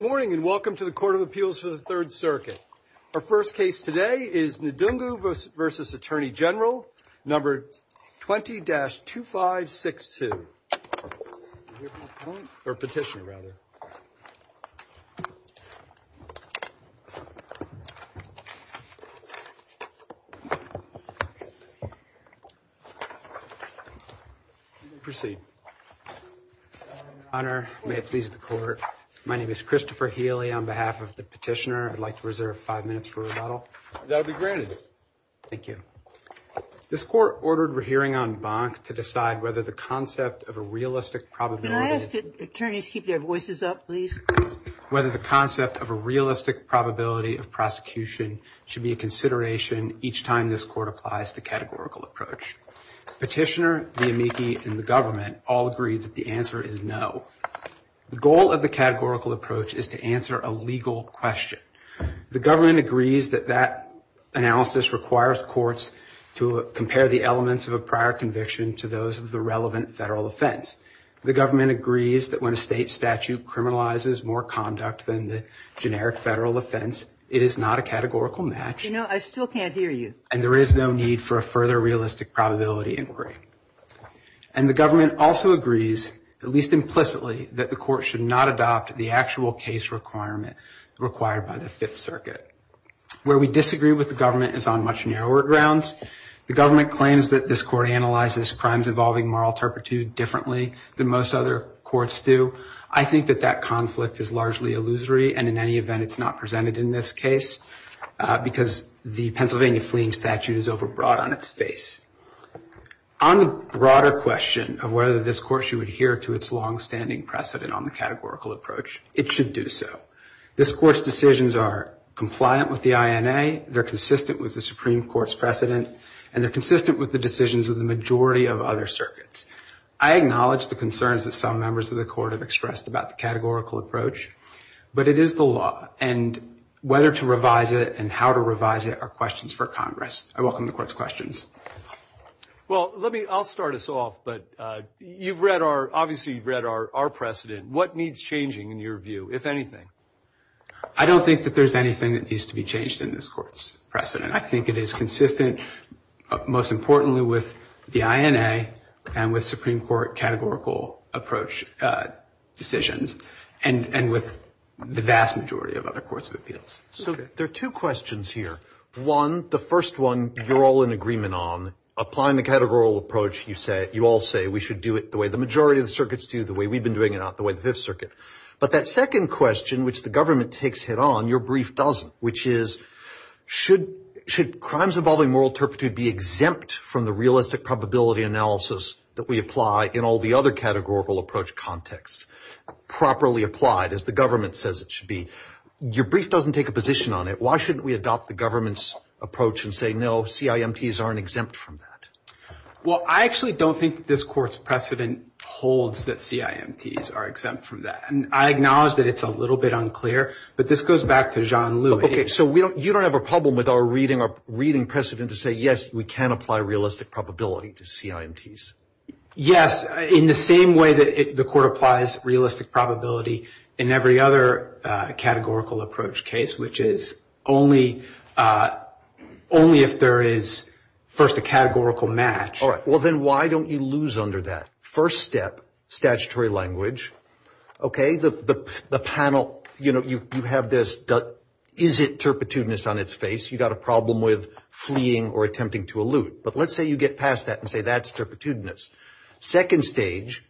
Good morning and welcome to the Court of Appeals for the Third Circuit. Our first case today is Ndungu v. Attorney General, number 20-2562. Proceed. Proceed. Your Honor, may it please the Court, my name is Christopher Healy. On behalf of the petitioner, I'd like to reserve five minutes for rebuttal. That'll be granted. Thank you. This Court ordered a hearing on Bonk to decide whether the concept of a realistic probability... Can I ask the attorneys to keep their voices up, please? ...whether the concept of a realistic probability of prosecution should be a consideration each time this Court applies the categorical approach. Petitioner, the amici, and the government all agree that the answer is no. The goal of the categorical approach is to answer a legal question. The government agrees that that analysis requires courts to compare the elements of a prior conviction to those of the relevant federal offense. The government agrees that when a state statute criminalizes more conduct than the generic federal offense, it is not a categorical match... You know, I still can't hear you. ...and there is no need for a further realistic probability inquiry. And the government also agrees, at least implicitly, that the court should not adopt the actual case requirement required by the Fifth Circuit. Where we disagree with the government is on much narrower grounds. The government claims that this Court analyzes crimes involving moral turpitude differently than most other courts do. I think that that conflict is largely illusory, and in any event, it's not presented in this case... ...because the Pennsylvania fleeing statute is overbroad on its face. On the broader question of whether this Court should adhere to its longstanding precedent on the categorical approach, it should do so. This Court's decisions are compliant with the INA, they're consistent with the Supreme Court's precedent, and they're consistent with the decisions of the majority of other circuits. I acknowledge the concerns that some members of the Court have expressed about the categorical approach, but it is the law, and whether to revise it and how to revise it are questions for Congress. I welcome the Court's questions. Well, I'll start us off, but obviously you've read our precedent. What needs changing, in your view, if anything? I don't think that there's anything that needs to be changed in this Court's precedent. I think it is consistent, most importantly, with the INA and with Supreme Court categorical approach decisions, and with the vast majority of other courts of appeals. So there are two questions here. One, the first one you're all in agreement on, applying the categorical approach you all say we should do it the way the majority of the circuits do, the way we've been doing it, not the way the Fifth Circuit. But that second question, which the government takes hit on, your brief doesn't, which is should crimes involving moral turpitude be exempt from the realistic probability analysis that we apply in all the other categorical approach contexts? Properly applied, as the government says it should be. Your brief doesn't take a position on it. Why shouldn't we adopt the government's approach and say, no, CIMTs aren't exempt from that? Well, I actually don't think this Court's precedent holds that CIMTs are exempt from that. I acknowledge that it's a little bit unclear, but this goes back to John Lewis. Okay, so you don't have a problem with our reading precedent to say, yes, we can apply realistic probability to CIMTs? Yes, in the same way that the Court applies realistic probability in every other categorical approach case, which is only if there is, first, a categorical match. All right, well, then why don't you lose under that? First step, statutory language. Okay, the panel, you know, you have this, is it turpitudinous on its face? You've got a problem with fleeing or attempting to allude. But let's say you get past that and say that's turpitudinous. Second stage,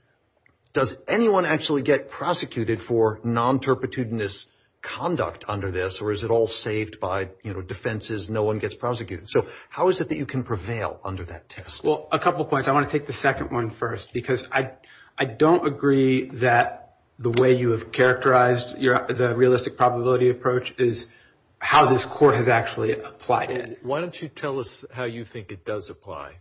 does anyone actually get prosecuted for non-turpitudinous conduct under this, or is it all saved by, you know, defenses, no one gets prosecuted? So how is it that you can prevail under that test? Well, a couple of points. I want to take the second one first, because I don't agree that the way you have characterized the realistic probability approach is how this Court has actually applied it. Why don't you tell us how you think it does apply?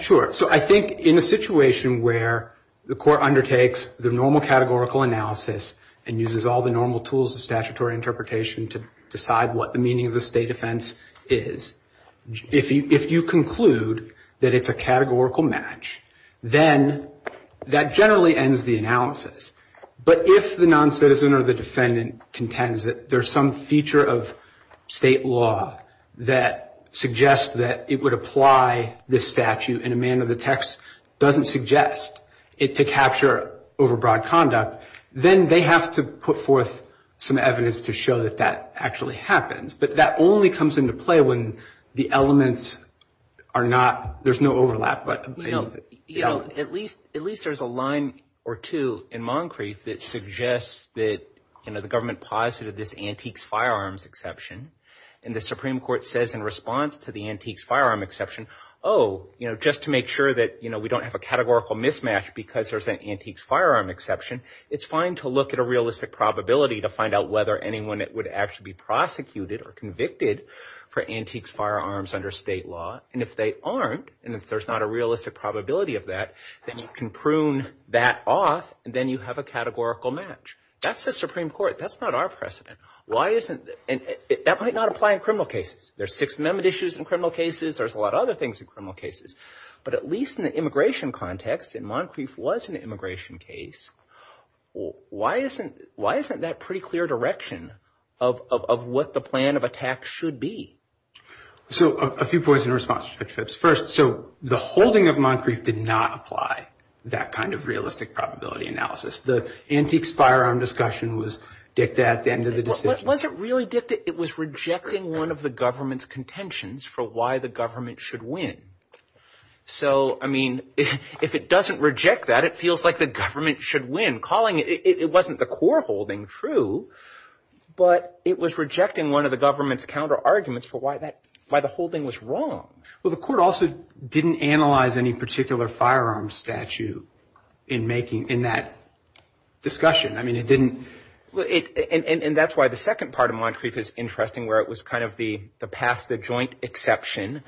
So I think in a situation where the Court undertakes the normal categorical analysis and uses all the normal tools of statutory interpretation to decide what the meaning of the state offense is, if you conclude that it's a categorical match, then that generally ends the analysis. But if the non-citizen or the defendant contends that there's some feature of state law that suggests that it would apply this statute in a manner the text doesn't suggest it to capture overbroad conduct, then they have to put forth some evidence to show that that actually happens. But that only comes into play when the elements are not – there's no overlap. At least there's a line or two in Moncrieff that suggests that the government posited this antiques firearms exception. And the Supreme Court says in response to the antiques firearm exception, oh, just to make sure that we don't have a categorical mismatch because there's an antiques firearm exception, it's fine to look at a realistic probability to find out whether anyone would actually be prosecuted or convicted for antiques firearms under state law. And if they aren't, and if there's not a realistic probability of that, then you can prune that off and then you have a categorical match. That's the Supreme Court. That's not our precedent. Why isn't – that might not apply in criminal cases. There's Sixth Amendment issues in criminal cases. There's a lot of other things in criminal cases. But at least in the immigration context, and Moncrieff was an immigration case, why isn't that pretty clear direction of what the plan of attack should be? So a few points in response to that. First, so the holding of Moncrieff did not apply that kind of realistic probability analysis. The antiques firearm discussion was dicta at the end of the decision. It wasn't really dicta. It was rejecting one of the government's contentions for why the government should win. So, I mean, if it doesn't reject that, it feels like the government should win. It wasn't the core holding, true, but it was rejecting one of the government's counterarguments for why the holding was wrong. Well, the court also didn't analyze any particular firearm statute in making – in that discussion. I mean, it didn't – and that's why the second part of Moncrieff is interesting where it was kind of the pastive joint exception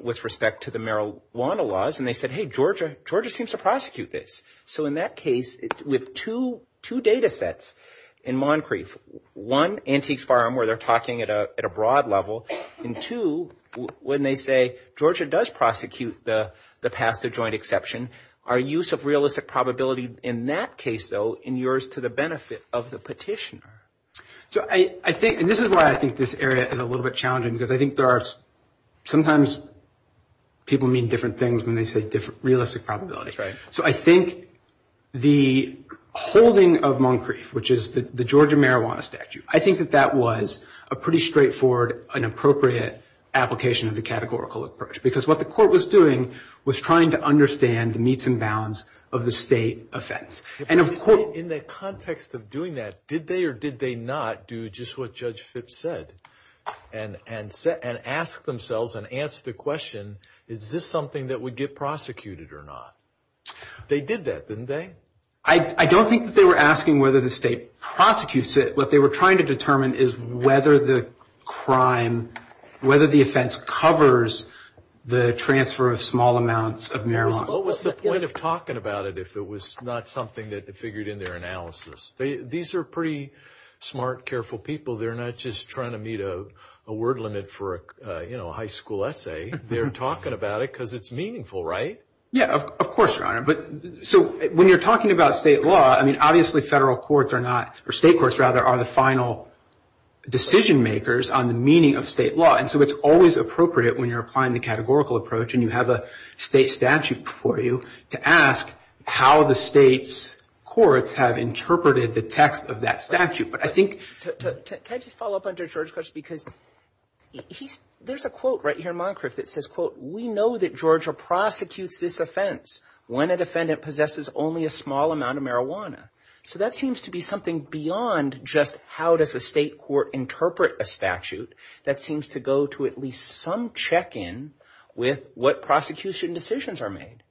with respect to the marijuana laws. And they said, hey, Georgia seems to prosecute this. So in that case, with two datasets in Moncrieff, one, antiques firearm where they're talking at a broad level, and two, when they say Georgia does prosecute the pastive joint exception, our use of realistic probability in that case, though, in yours to the benefit of the petitioner. So I think – and this is why I think this area is a little bit challenging because I think there are – sometimes people mean different things when they say different realistic probabilities. So I think the holding of Moncrieff, which is the Georgia marijuana statute, I think that that was a pretty straightforward and appropriate application of the categorical approach because what the court was doing was trying to understand the needs and bounds of the state offense. And of course – In the context of doing that, did they or did they not do just what Judge Fitts said and ask themselves and answer the question, is this something that would get prosecuted or not? They did that, didn't they? I don't think that they were asking whether the state prosecutes it. What they were trying to determine is whether the crime – whether the offense covers the transfer of small amounts of marijuana. What was the point of talking about it if it was not something that they figured in their analysis? These are pretty smart, careful people. They're not just trying to meet a word limit for a high school essay. They're talking about it because it's meaningful, right? Yeah, of course, Your Honor. So when you're talking about state law, I mean, obviously federal courts are not – or state courts, rather, are the final decision makers on the meaning of state law. And so it's always appropriate when you're applying the categorical approach and you have a state statute before you to ask how the state's courts have interpreted the text of that statute. But I think – can I just follow up on Judge George's question? Because there's a quote right here in Moncrief that says, quote, we know that Georgia prosecutes this offense when a defendant possesses only a small amount of marijuana. So that seems to be something beyond just how does a state court interpret a statute. That seems to go to at least some check-in with what prosecution decisions are made.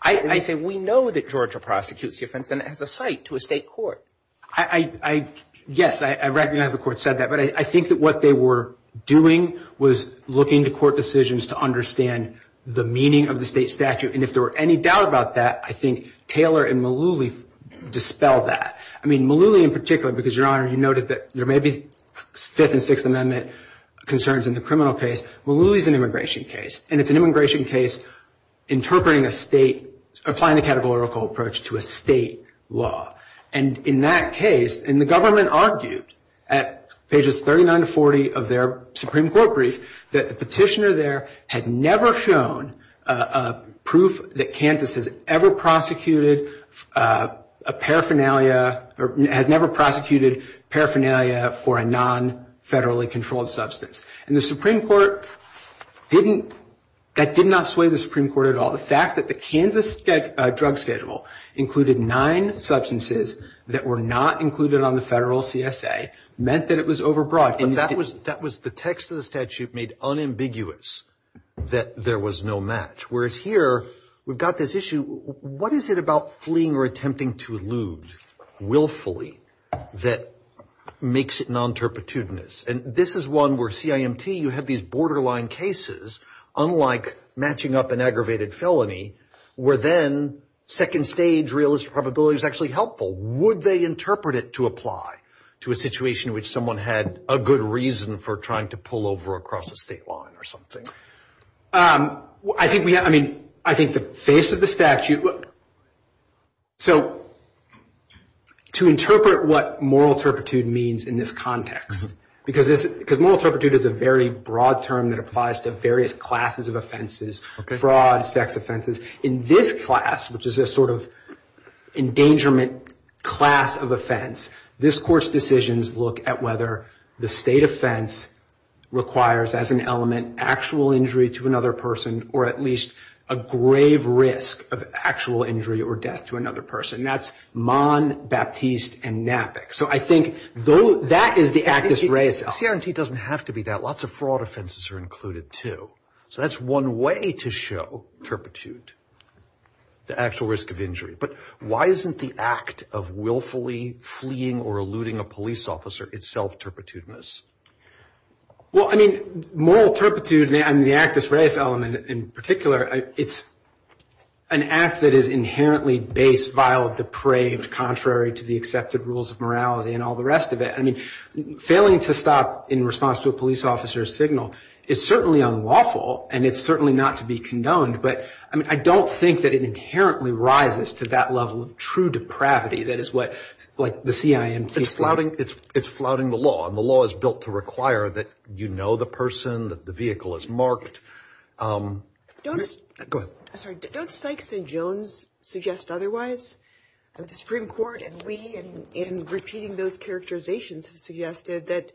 I think we know that Georgia prosecutes the offense and it has a site to a state court. I – yes, I recognize the court said that, but I think that what they were doing was looking to court decisions to understand the meaning of the state statute. And if there were any doubt about that, I think Taylor and Malooly dispelled that. I mean, Malooly in particular, because, Your Honor, you noted that there may be Fifth and Sixth Amendment concerns in the criminal case. Malooly is an immigration case. And it's an immigration case interpreting a state – applying the categorical approach to a state law. And in that case – and the government argued at pages 39 to 40 of their Supreme Court brief that the petitioner there had never shown proof that Kansas has ever prosecuted a paraphernalia – has never prosecuted paraphernalia for a non-federally controlled substance. And the Supreme Court didn't – that did not sway the Supreme Court at all. The fact that the Kansas drug schedule included nine substances that were not included on the federal CSA meant that it was overbroad. And that was – the text of the statute made unambiguous that there was no match. Whereas here, we've got this issue. What is it about fleeing or attempting to elude willfully that makes it non-terpitudinous? And this is one where CIMT, you have these borderline cases, unlike matching up an aggravated felony, where then second stage realistic probability is actually helpful. Would they interpret it to apply to a situation in which someone had a good reason for trying to pull over across the state line or something? I think we – I mean, I think the face of the statute – So, to interpret what moral turpitude means in this context, because this – because moral turpitude is a very broad term that applies to various classes of offenses, fraud, sex offenses. In this class, which is a sort of endangerment class of offense, this course decisions look at whether the state offense requires as an element actual injury to another person or at least a grave risk of actual injury or death to another person. That's Mon, Baptiste, and NAPIC. So, I think that is the actus rei. CIMT doesn't have to be that. Lots of fraud offenses are included, too. So, that's one way to show turpitude, the actual risk of injury. But why isn't the act of willfully fleeing or eluding a police officer itself turpitudinous? Well, I mean, moral turpitude – I mean, the actus rei element in particular, it's an act that is inherently base, vile, depraved, contrary to the accepted rules of morality and all the rest of it. I mean, failing to stop in response to a police officer's signal is certainly unlawful, and it's certainly not to be condoned. But, I mean, I don't think that it inherently rises to that level of true depravity. That is what, like, the CIMT – it's flouting the law, and the law is built to require that you know the person, that the vehicle is marked. Go ahead. I'm sorry. Don't Sykes and Jones suggest otherwise? The Supreme Court, in repeating those characterizations, has suggested that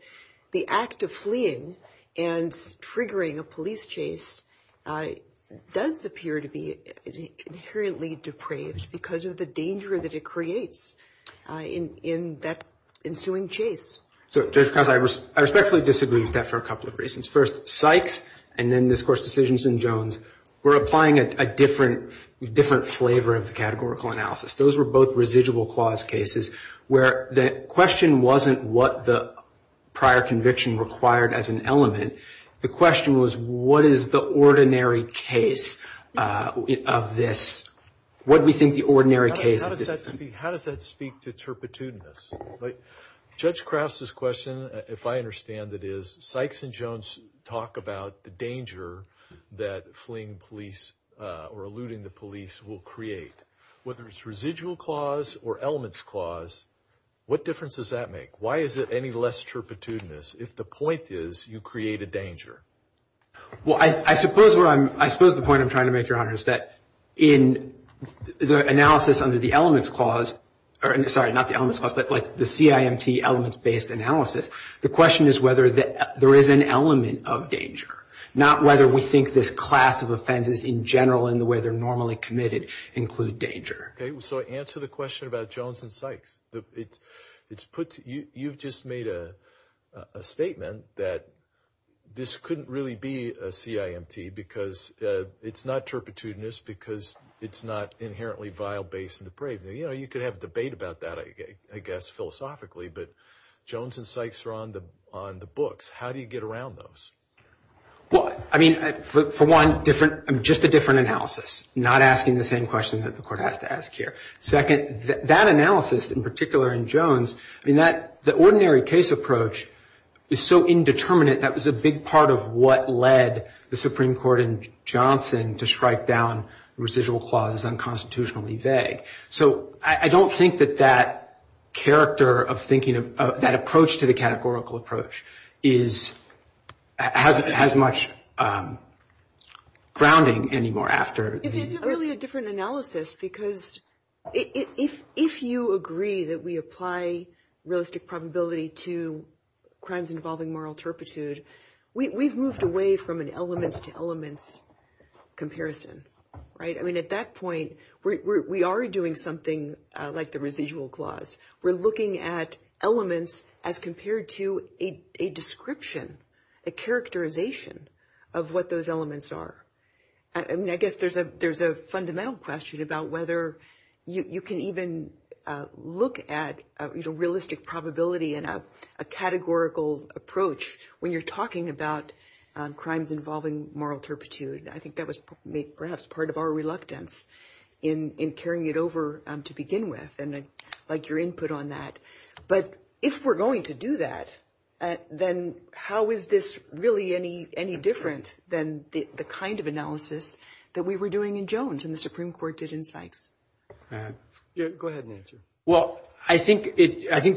the act of fleeing and triggering a police chase does appear to be inherently depraved because of the danger that it creates in that ensuing chase. So, Judge Krause, I respectfully disagree with that for a couple of reasons. First, Sykes, and then, of course, decisions in Jones, were applying a different flavor of the categorical analysis. Those were both residual clause cases where the question wasn't what the prior conviction required as an element. The question was, what is the ordinary case of this? What do we think the ordinary case of this is? How does that speak to chirpitudinous? Judge Krause's question, if I understand it is, Sykes and Jones talk about the danger that fleeing police or eluding the police will create. Whether it's residual clause or elements clause, what difference does that make? Why is it any less chirpitudinous? If the point is, you create a danger. Well, I suppose the point I'm trying to make, Your Honor, is that in the analysis under the elements clause, sorry, not the elements clause, but the CIMT elements-based analysis, the question is whether there is an element of danger, not whether we think this class of offenses in general and the way they're normally committed include danger. Okay, so answer the question about Jones and Sykes. You've just made a statement that this couldn't really be a CIMT because it's not chirpitudinous because it's not inherently vile, base, and depraved. You know, you could have a debate about that, I guess, philosophically, but Jones and Sykes are on the books. How do you get around those? Well, I mean, for one, just a different analysis, not asking the same question that the court has to ask here. Second, that analysis in particular in Jones, I mean, the ordinary case approach is so indeterminate that was a big part of what led the Supreme Court in Johnson to strike down residual clauses unconstitutionally vague. So I don't think that that character of thinking, that approach to the categorical approach, has much grounding anymore after the- It's really a different analysis because if you agree that we apply realistic probability to crimes involving moral chirpitude, we've moved away from an element to element comparison, right? I mean, at that point, we are doing something like the residual clause. We're looking at elements as compared to a description, a characterization of what those elements are. I mean, I guess there's a fundamental question about whether you can even look at realistic probability in a categorical approach when you're talking about crimes involving moral chirpitude. I think that was perhaps part of our reluctance in carrying it over to begin with, and I'd like your input on that. But if we're going to do that, then how is this really any different than the kind of analysis that we were doing in Jones and the Supreme Court did in Sykes? Go ahead and answer. Well, I think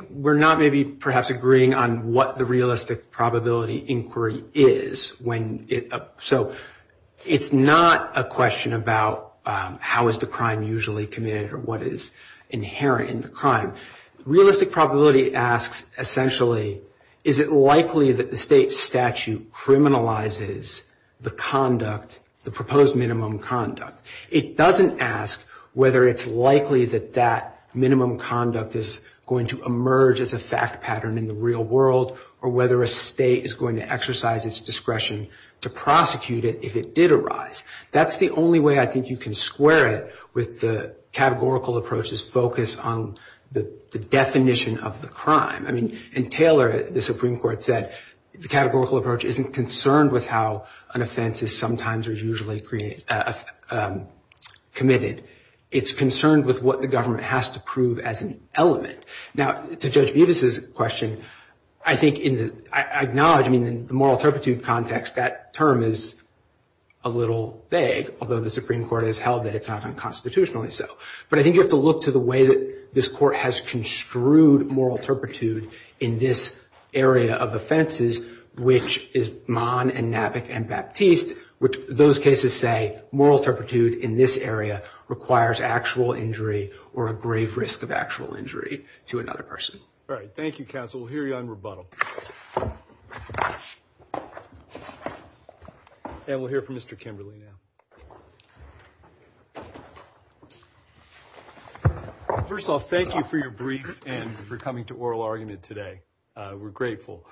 we're not maybe perhaps agreeing on what the realistic probability inquiry is. So it's not a question about how is the crime usually committed or what is inherent in the crime. Realistic probability asks, essentially, is it likely that the state statute criminalizes the conduct, the proposed minimum conduct? It doesn't ask whether it's likely that that minimum conduct is going to emerge as a fact pattern in the real world or whether a state is going to exercise its discretion to prosecute it if it did arise. That's the only way I think you can square it with the categorical approach's focus on the definition of the crime. I mean, in Taylor, the Supreme Court said the categorical approach isn't concerned with how an offense is sometimes or usually committed. It's concerned with what the government has to prove as an element. Now, to Judge Budas' question, I acknowledge in the moral turpitude context that term is a little vague, although the Supreme Court has held that it's not unconstitutionally so. But I think you have to look to the way that this court has construed moral turpitude in this area of offenses, which is Monn and Mavick and Baptiste, which those cases say moral turpitude in this area requires actual injury or a grave risk of actual injury to another person. All right. Thank you, counsel. We'll hear you on rebuttal. And we'll hear from Mr. Kimberly now. First of all, thank you for your brief and for coming to oral argument today. We're grateful.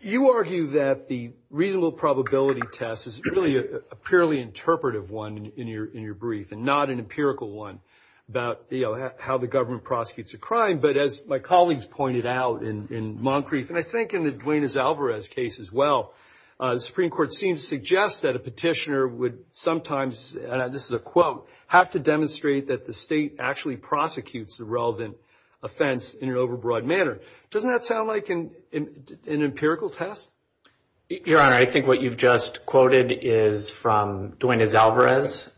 You argue that the reasonable probability test is really a purely interpretive one in your brief and not an empirical one about how the government prosecutes a crime. But as my colleagues pointed out in Moncrief and I think in the Duenes-Alvarez case as well, the Supreme Court seems to suggest that a petitioner would sometimes, this is a quote, have to demonstrate that the state actually prosecutes the relevant offense in an overbroad manner. Doesn't that sound like an empirical test? Your Honor, I think what you've just quoted is from Duenes-Alvarez.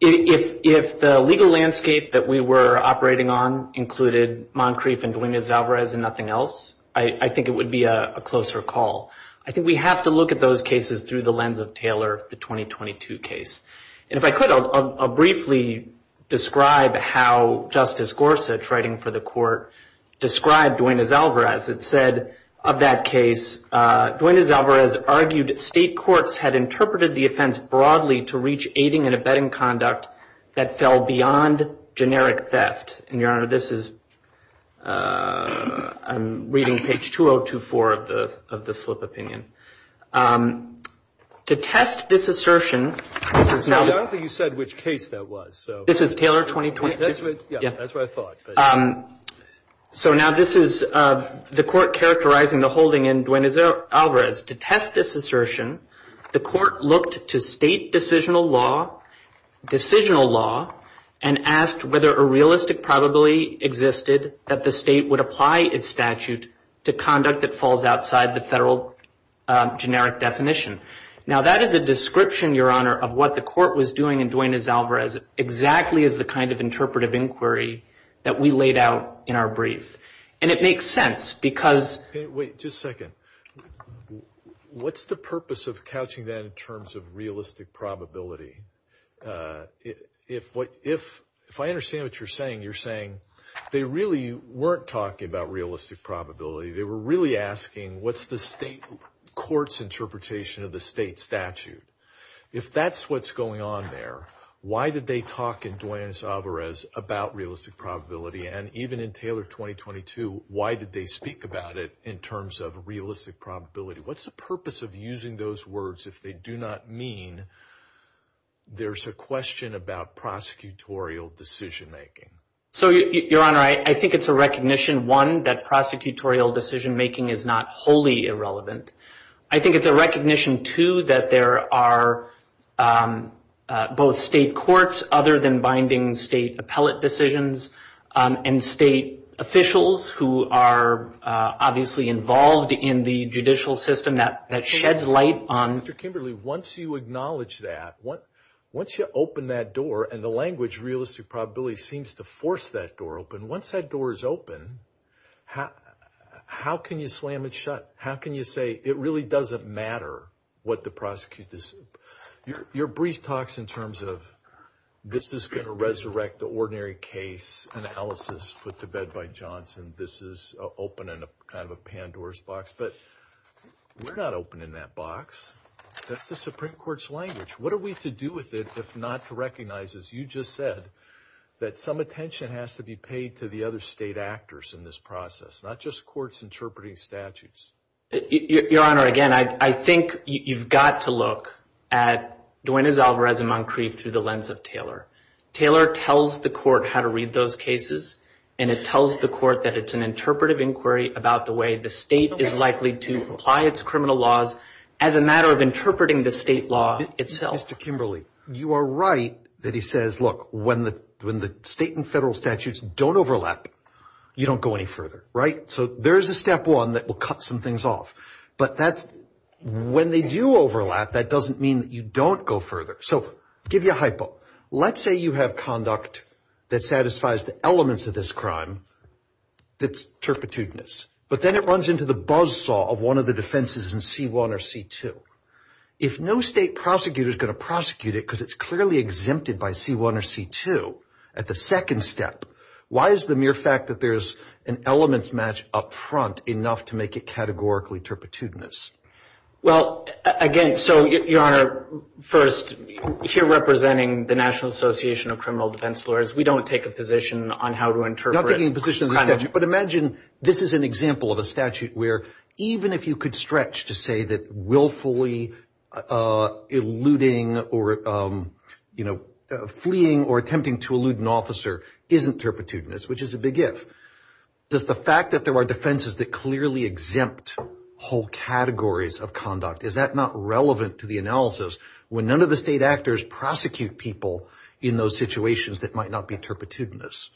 If the legal landscape that we were operating on included Moncrief and Duenes-Alvarez and nothing else, I think it would be a closer call. I think we have to look at those cases through the lens of Taylor, the 2022 case. And if I could, I'll briefly describe how Justice Gorsuch, writing for the court, described Duenes-Alvarez. It said of that case, Duenes-Alvarez argued that state courts had interpreted the offense broadly to reach aiding and abetting conduct that fell beyond generic theft. Your Honor, this is, I'm reading page 2024 of the slip opinion. To test this assertion. I don't think you said which case that was. This is Taylor 2022? Yeah, that's what I thought. So now this is the court characterizing the holding in Duenes-Alvarez. To test this assertion, the court looked to state decisional law and asked whether a realistic probability existed that the state would apply its statute to conduct that falls outside the federal generic definition. Now that is a description, Your Honor, of what the court was doing in Duenes-Alvarez exactly as the kind of interpretive inquiry that we laid out in our brief. And it makes sense because... Wait, just a second. What's the purpose of couching that in terms of realistic probability? If I understand what you're saying, you're saying they really weren't talking about realistic probability. They were really asking what's the state court's interpretation of the state statute. If that's what's going on there, why did they talk in Duenes-Alvarez about realistic probability? And even in Taylor 2022, why did they speak about it in terms of realistic probability? What's the purpose of using those words if they do not mean there's a question about prosecutorial decision-making? So, Your Honor, I think it's a recognition, one, that prosecutorial decision-making is not wholly irrelevant. I think it's a recognition, two, that there are both state courts, other than binding state appellate decisions, and state officials who are obviously involved in the judicial system that sheds light on... Mr. Kimberly, once you acknowledge that, once you open that door, and the language realistic probability seems to force that door open, once that door is open, how can you slam it shut? How can you say it really doesn't matter what the prosecutor's... Your brief talks in terms of this is going to resurrect the ordinary case analysis put to bed by Johnson. This is opening kind of a Pandora's box. But we're not opening that box. That's the Supreme Court's language. What are we to do with it if not to recognize, as you just said, that some attention has to be paid to the other state actors in this process, not just courts interpreting statutes? Your Honor, again, I think you've got to look at Duenas Alvarez and Moncrief through the lens of Taylor. Taylor tells the court how to read those cases, and it tells the court that it's an interpretive inquiry about the way the state is likely to apply its criminal laws as a matter of interpreting the state law itself. Mr. Kimberly, you are right that he says, look, when the state and federal statutes don't overlap, you don't go any further, right? So there is a step one that will cut some things off. But when they do overlap, that doesn't mean that you don't go further. So I'll give you a hypo. Let's say you have conduct that satisfies the elements of this crime that's turpitudinous, but then it runs into the buzzsaw of one of the defenses in C1 or C2. If no state prosecutor is going to prosecute it because it's clearly exempted by C1 or C2 at the second step, why is the mere fact that there's an elements match up front enough to make it categorically turpitudinous? Well, again, so, Your Honor, first, if you're representing the National Association of Criminal Defense Lawyers, we don't take a position on how to interpret crime. But imagine this is an example of a statute where even if you could stretch to say that willfully eluding or, you know, fleeing or attempting to elude an officer isn't turpitudinous, which is a big if. Does the fact that there are defenses that clearly exempt whole categories of conduct, is that not relevant to the analysis when none of the state actors prosecute people in those situations that might not be turpitudinous?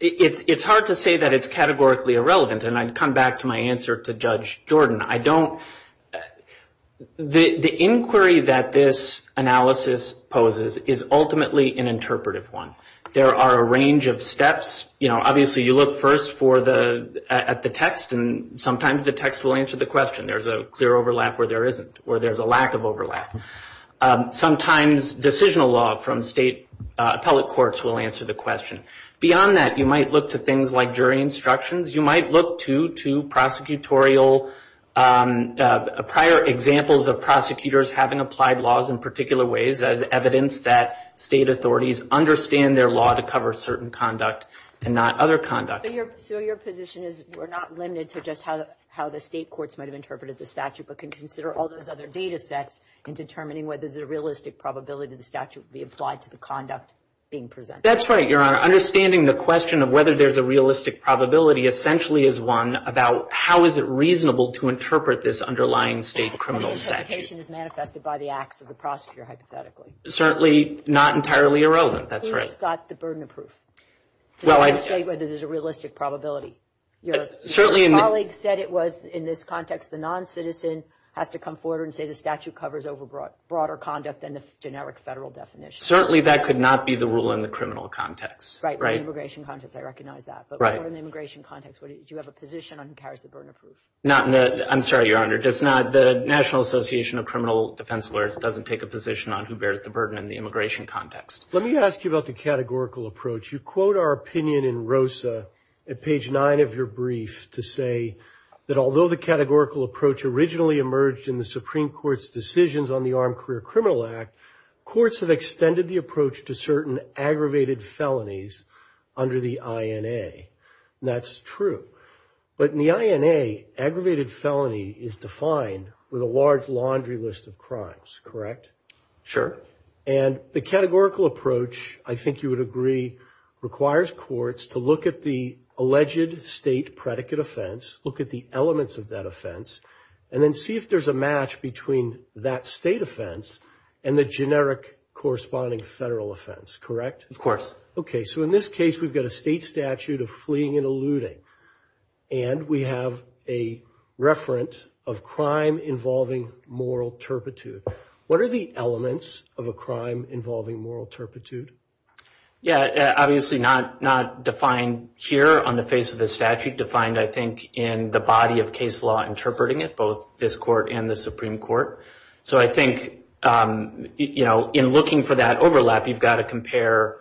It's hard to say that it's categorically irrelevant, and I'd come back to my answer to Judge Jordan. I don't – the inquiry that this analysis poses is ultimately an interpretive one. There are a range of steps. You know, obviously you look first at the text, and sometimes the text will answer the question. There's a clear overlap where there isn't or there's a lack of overlap. Sometimes decisional law from state public courts will answer the question. Beyond that, you might look to things like jury instructions. You might look to prosecutorial – prior examples of prosecutors having applied laws in particular ways as evidence that state authorities understand their law to cover certain conduct and not other conduct. So your position is we're not limited to just how the state courts might have interpreted the statute but can consider all those other data sets in determining whether there's a realistic probability the statute would be applied to the conduct being presented? That's right, Your Honor. Understanding the question of whether there's a realistic probability essentially is one about how is it reasonable to interpret this underlying state criminal statute. The expectation is manifested by the acts of the prosecutor, hypothetically. Certainly not entirely irrelevant, that's right. Who has got the burden of proof to say whether there's a realistic probability? Your colleague said it was in this context the noncitizen has to come forward and say the statute covers over broader conduct than the generic federal definition. Certainly that could not be the rule in the criminal context. Right, in the immigration context I recognize that. But what about in the immigration context? Do you have a position on who carries the burden of proof? I'm sorry, Your Honor. The National Association of Criminal Defense Lawyers doesn't take a position on who bears the burden in the immigration context. Let me ask you about the categorical approach. You quote our opinion in ROSA at page 9 of your brief to say that although the categorical approach originally emerged in the Supreme Court's decisions on the Armed Career Criminal Act, courts have extended the approach to certain aggravated felonies under the INA. That's true. But in the INA, aggravated felony is defined with a large laundry list of crimes, correct? Sure. And the categorical approach, I think you would agree, requires courts to look at the alleged state predicate offense, look at the elements of that offense, and then see if there's a match between that state offense and the generic corresponding federal offense, correct? Of course. Okay, so in this case we've got a state statute of fleeing and eluding, and we have a reference of crime involving moral turpitude. What are the elements of a crime involving moral turpitude? Yeah, obviously not defined here on the face of the statute, defined I think in the body of case law interpreting it, both this court and the Supreme Court. So I think, you know, in looking for that overlap, you've got to compare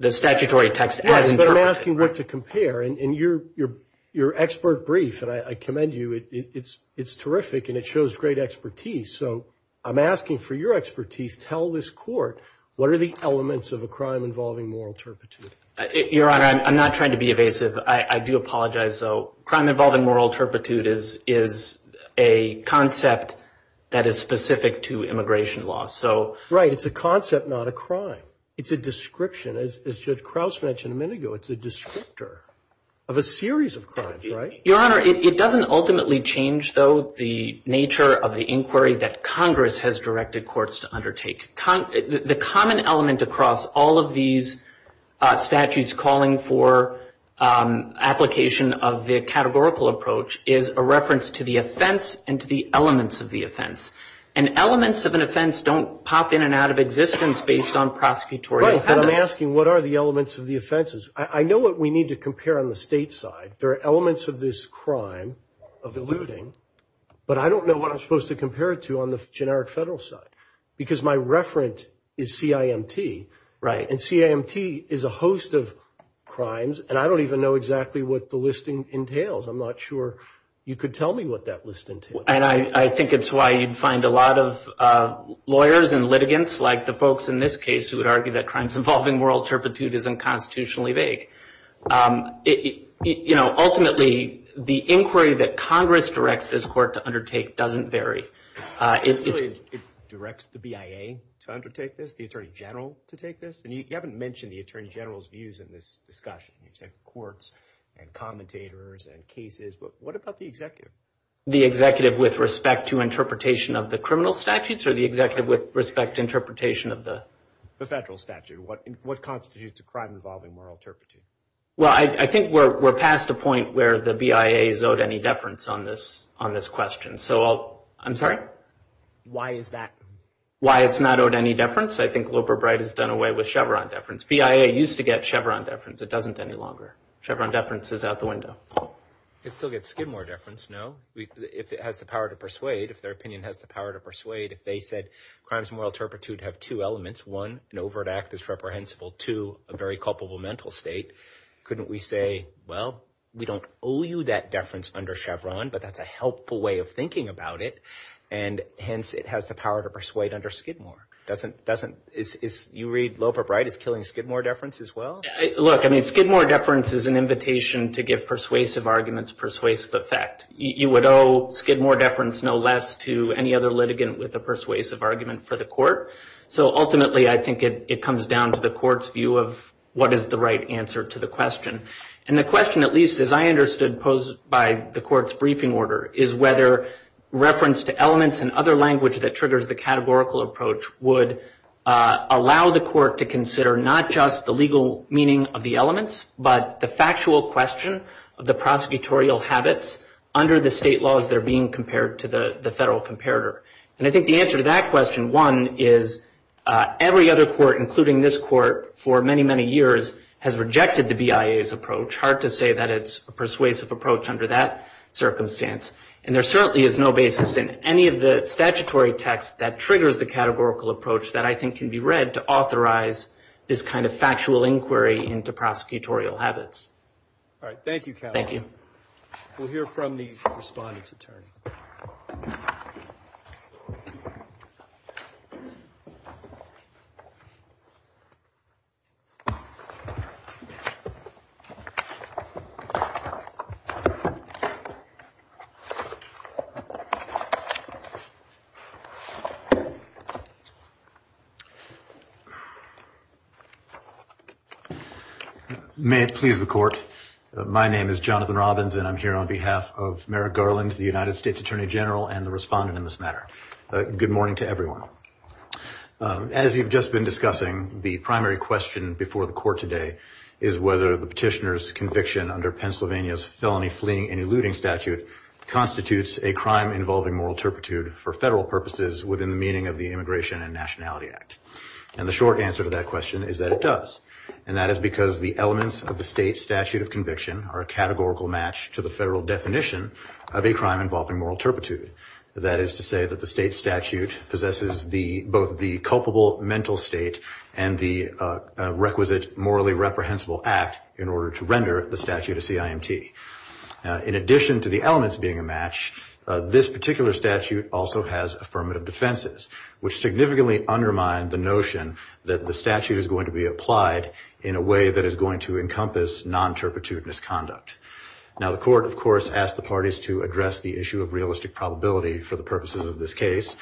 the statutory text. Yeah, but I'm asking Rick to compare, and your expert brief, and I commend you, it's terrific, and it shows great expertise. So I'm asking for your expertise. Tell this court what are the elements of a crime involving moral turpitude. Your Honor, I'm not trying to be evasive. I do apologize, though. Crime involving moral turpitude is a concept that is specific to immigration law. Right, it's a concept, not a crime. It's a description. As Judge Krause mentioned a minute ago, it's a descriptor of a series of crimes, right? Your Honor, it doesn't ultimately change, though, the nature of the inquiry that Congress has directed courts to undertake. The common element across all of these statutes calling for application of the categorical approach is a reference to the offense and to the elements of the offense. And elements of an offense don't pop in and out of existence based on prosecutorial power. Right, but I'm asking what are the elements of the offenses. I know what we need to compare on the state side. There are elements of this crime of eluding, but I don't know what I'm supposed to compare it to on the generic federal side because my referent is CIMT, and CIMT is a host of crimes, and I don't even know exactly what the listing entails. I'm not sure you could tell me what that listing entails. And I think it's why you'd find a lot of lawyers and litigants like the folks in this case who would argue that crimes involving moral turpitude is unconstitutionally vague. Ultimately, the inquiry that Congress directs this court to undertake doesn't vary. It directs the BIA to undertake this, the Attorney General to take this, but you haven't mentioned the Attorney General's views in this discussion, except courts and commentators and cases. But what about the executive? The executive with respect to interpretation of the criminal statutes or the executive with respect to interpretation of the federal statute? What constitutes a crime involving moral turpitude? Well, I think we're past the point where the BIA is owed any deference on this question. I'm sorry? Why is that? Why it's not owed any deference? I think Wilbur Bright has done away with Chevron deference. BIA used to get Chevron deference. It doesn't any longer. Chevron deference is out the window. It still gets Skidmore deference, no? If it has the power to persuade, if their opinion has the power to persuade, if they said crimes of moral turpitude have two elements, one, an overt act that's reprehensible, two, a very culpable mental state, couldn't we say, well, we don't owe you that deference under Chevron, but that's a helpful way of thinking about it, and hence it has the power to persuade under Skidmore? Doesn't – if you read Wilbur Bright, it's killing Skidmore deference as well? Look, I mean, Skidmore deference is an invitation to give persuasive arguments persuasive effect. You would owe Skidmore deference no less to any other litigant with a persuasive argument for the court. So ultimately, I think it comes down to the court's view of what is the right answer to the question. And the question, at least as I understood posed by the court's briefing order, is whether reference to elements and other language that triggers the categorical approach would allow the court to consider not just the legal meaning of the elements, but the factual question of the prosecutorial habits under the state laws that are being compared to the federal comparator. And I think the answer to that question, one, is every other court, including this court, for many, many years has rejected the BIA's approach. Hard to say that it's a persuasive approach under that circumstance. And there certainly is no basis in any of the statutory text that triggers the categorical approach that I think can be read to authorize this kind of factual inquiry into prosecutorial habits. All right. Thank you, Calvin. We'll hear from the respondent's attorney. May it please the court. My name is Jonathan Robbins, and I'm here on behalf of Merrick Garland, the United States Attorney General, and the respondent in this matter. Good morning to everyone. As you've just been discussing, the primary question before the court today is whether the petitioner's conviction under Pennsylvania's felony fleeing and eluding statute constitutes a crime involving moral turpitude for federal purposes within the meaning of the Immigration and Nationality Act. And the short answer to that question is that it does. And that is because the elements of the state statute of conviction are a categorical match to the federal definition of a crime involving moral turpitude. That is to say that the state statute possesses both the culpable mental state and the requisite morally reprehensible act in order to render the statute a CIMT. In addition to the elements being a match, this particular statute also has affirmative defenses, which significantly undermine the notion that the statute is going to be applied in a way that is going to encompass non-turpitude misconduct. Now, the court, of course, asked the parties to address the issue of realistic probability for the purposes of this case.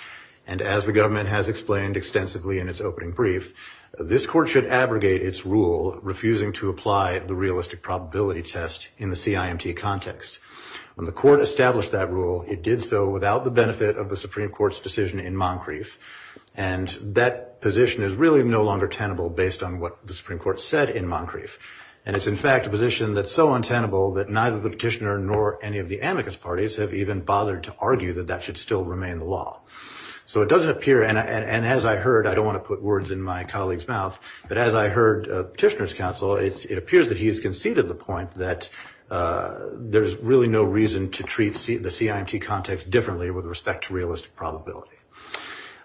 And as the government has explained extensively in its opening brief, this court should abrogate its rule refusing to apply the realistic probability test in the CIMT context. When the court established that rule, it did so without the benefit of the Supreme Court's decision in Moncrief. And that position is really no longer tenable based on what the Supreme Court said in Moncrief. And it's, in fact, a position that's so untenable that neither the petitioner nor any of the amicus parties have even bothered to argue that that should still remain the law. So it doesn't appear, and as I heard, I don't want to put words in my colleague's mouth, but as I heard the petitioner's counsel, it appears that he's conceded the point that there's really no reason to treat the CIMT context differently with respect to realistic probability.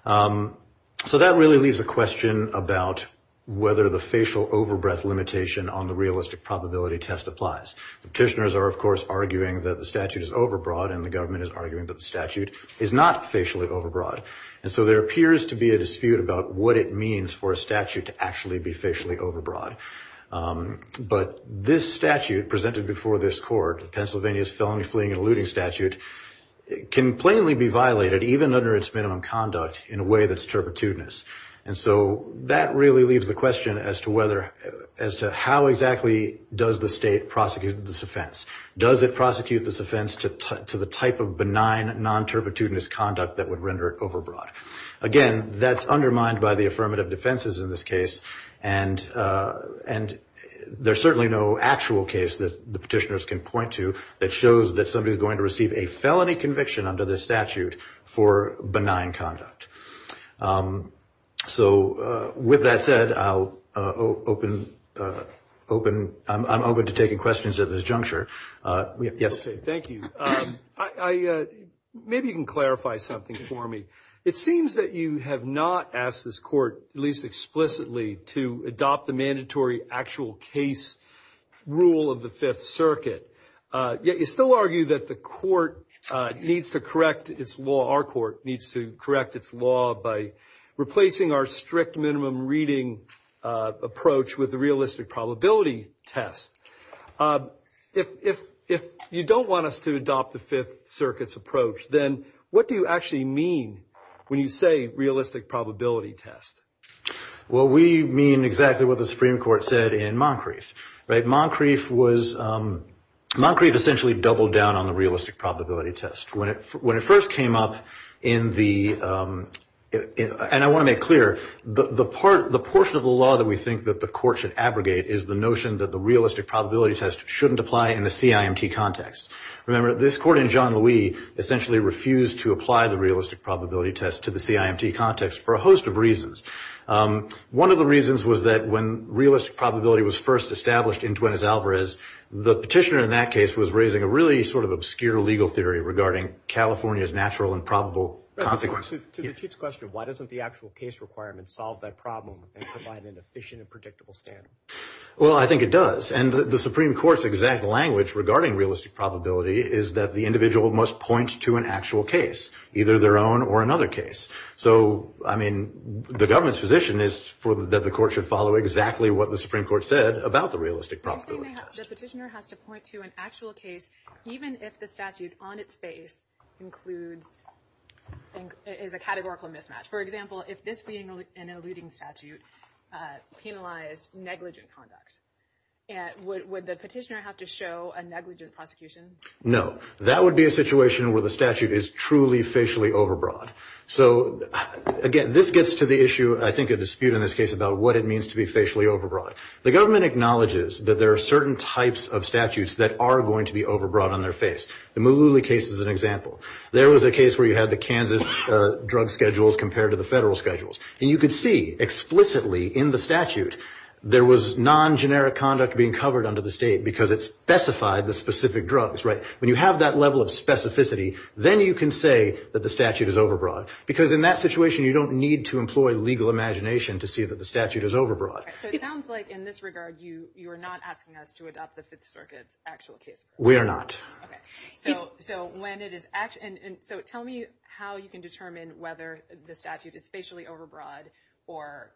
So that really leaves a question about whether the facial overbreath limitation on the realistic probability test applies. Petitioners are, of course, arguing that the statute is overbroad, and the government is arguing that the statute is not facially overbroad. And so there appears to be a dispute about what it means for a statute to actually be facially overbroad. But this statute presented before this court, Pennsylvania's Felony, Fleeing, and Eluding Statute, can plainly be violated even under its minimum conduct in a way that's turpitudinous. And so that really leaves the question as to how exactly does the state prosecute this offense. Does it prosecute this offense to the type of benign, non-turpitudinous conduct that would render it overbroad? Again, that's undermined by the affirmative defenses in this case, and there's certainly no actual case that the petitioners can point to that shows that somebody's going to receive a felony conviction under this statute for benign conduct. So with that said, I'm open to taking questions at this juncture. Yes? Thank you. Maybe you can clarify something for me. It seems that you have not asked this court, at least explicitly, to adopt the mandatory actual case rule of the Fifth Circuit, yet you still argue that the court needs to correct its law, our court needs to correct its law, by replacing our strict minimum reading approach with a realistic probability test. If you don't want us to adopt the Fifth Circuit's approach, then what do you actually mean when you say realistic probability test? Well, we mean exactly what the Supreme Court said in Moncrieff. Moncrieff essentially doubled down on the realistic probability test. When it first came up in the—and I want to make clear, the portion of the law that we think that the court should abrogate is the notion that the realistic probability test shouldn't apply in the CIMT context. Remember, this court in Jean-Louis essentially refused to apply the realistic probability test to the CIMT context for a host of reasons. One of the reasons was that when realistic probability was first established in Tuenes Alvarez, the petitioner in that case was raising a really sort of obscure legal theory regarding California's natural and probable consequences. To the Chief's question, why doesn't the actual case requirement solve that problem and provide an efficient and predictable standard? Well, I think it does, and the Supreme Court's exact language regarding realistic probability is that the individual must point to an actual case, either their own or another case. So, I mean, the government's position is that the court should follow exactly what the Supreme Court said about the realistic probability test. The petitioner has to point to an actual case even if the statute on its face is a categorical mismatch. For example, if this being an eluding statute penalized negligent conduct, would the petitioner have to show a negligent prosecution? No. That would be a situation where the statute is truly facially overbroad. So, again, this gets to the issue, I think a dispute in this case, about what it means to be facially overbroad. The government acknowledges that there are certain types of statutes that are going to be overbroad on their face. The Mullooly case is an example. There was a case where you had the Kansas drug schedules compared to the federal schedules. And you could see explicitly in the statute there was non-generic conduct being covered under the state because it specified the specific drugs, right? When you have that level of specificity, then you can say that the statute is overbroad. Because in that situation, you don't need to employ legal imagination to see that the statute is overbroad. It sounds like, in this regard, you are not asking us to adopt the Fifth Circuit's actual case. We are not. So, tell me how you can determine whether the statute is facially overbroad or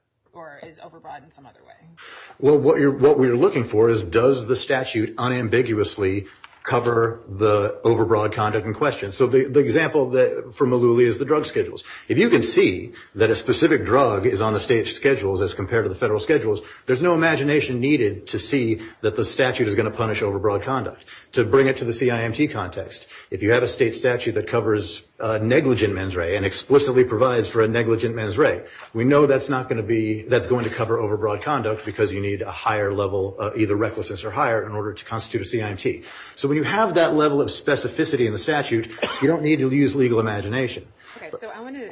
is overbroad in some other way. Well, what we are looking for is does the statute unambiguously cover the overbroad conduct in question. So, the example from Mullooly is the drug schedules. If you can see that a specific drug is on the state's schedules as compared to the federal schedules, there's no imagination needed to see that the statute is going to punish overbroad conduct. To bring it to the CIMT context, if you have a state statute that covers negligent mens re and explicitly provides for a negligent mens re, we know that's going to cover overbroad conduct because you need a higher level of either recklessness or higher in order to constitute a CIMT. So, when you have that level of specificity in the statute, you don't need to use legal imagination. Okay. So, I want to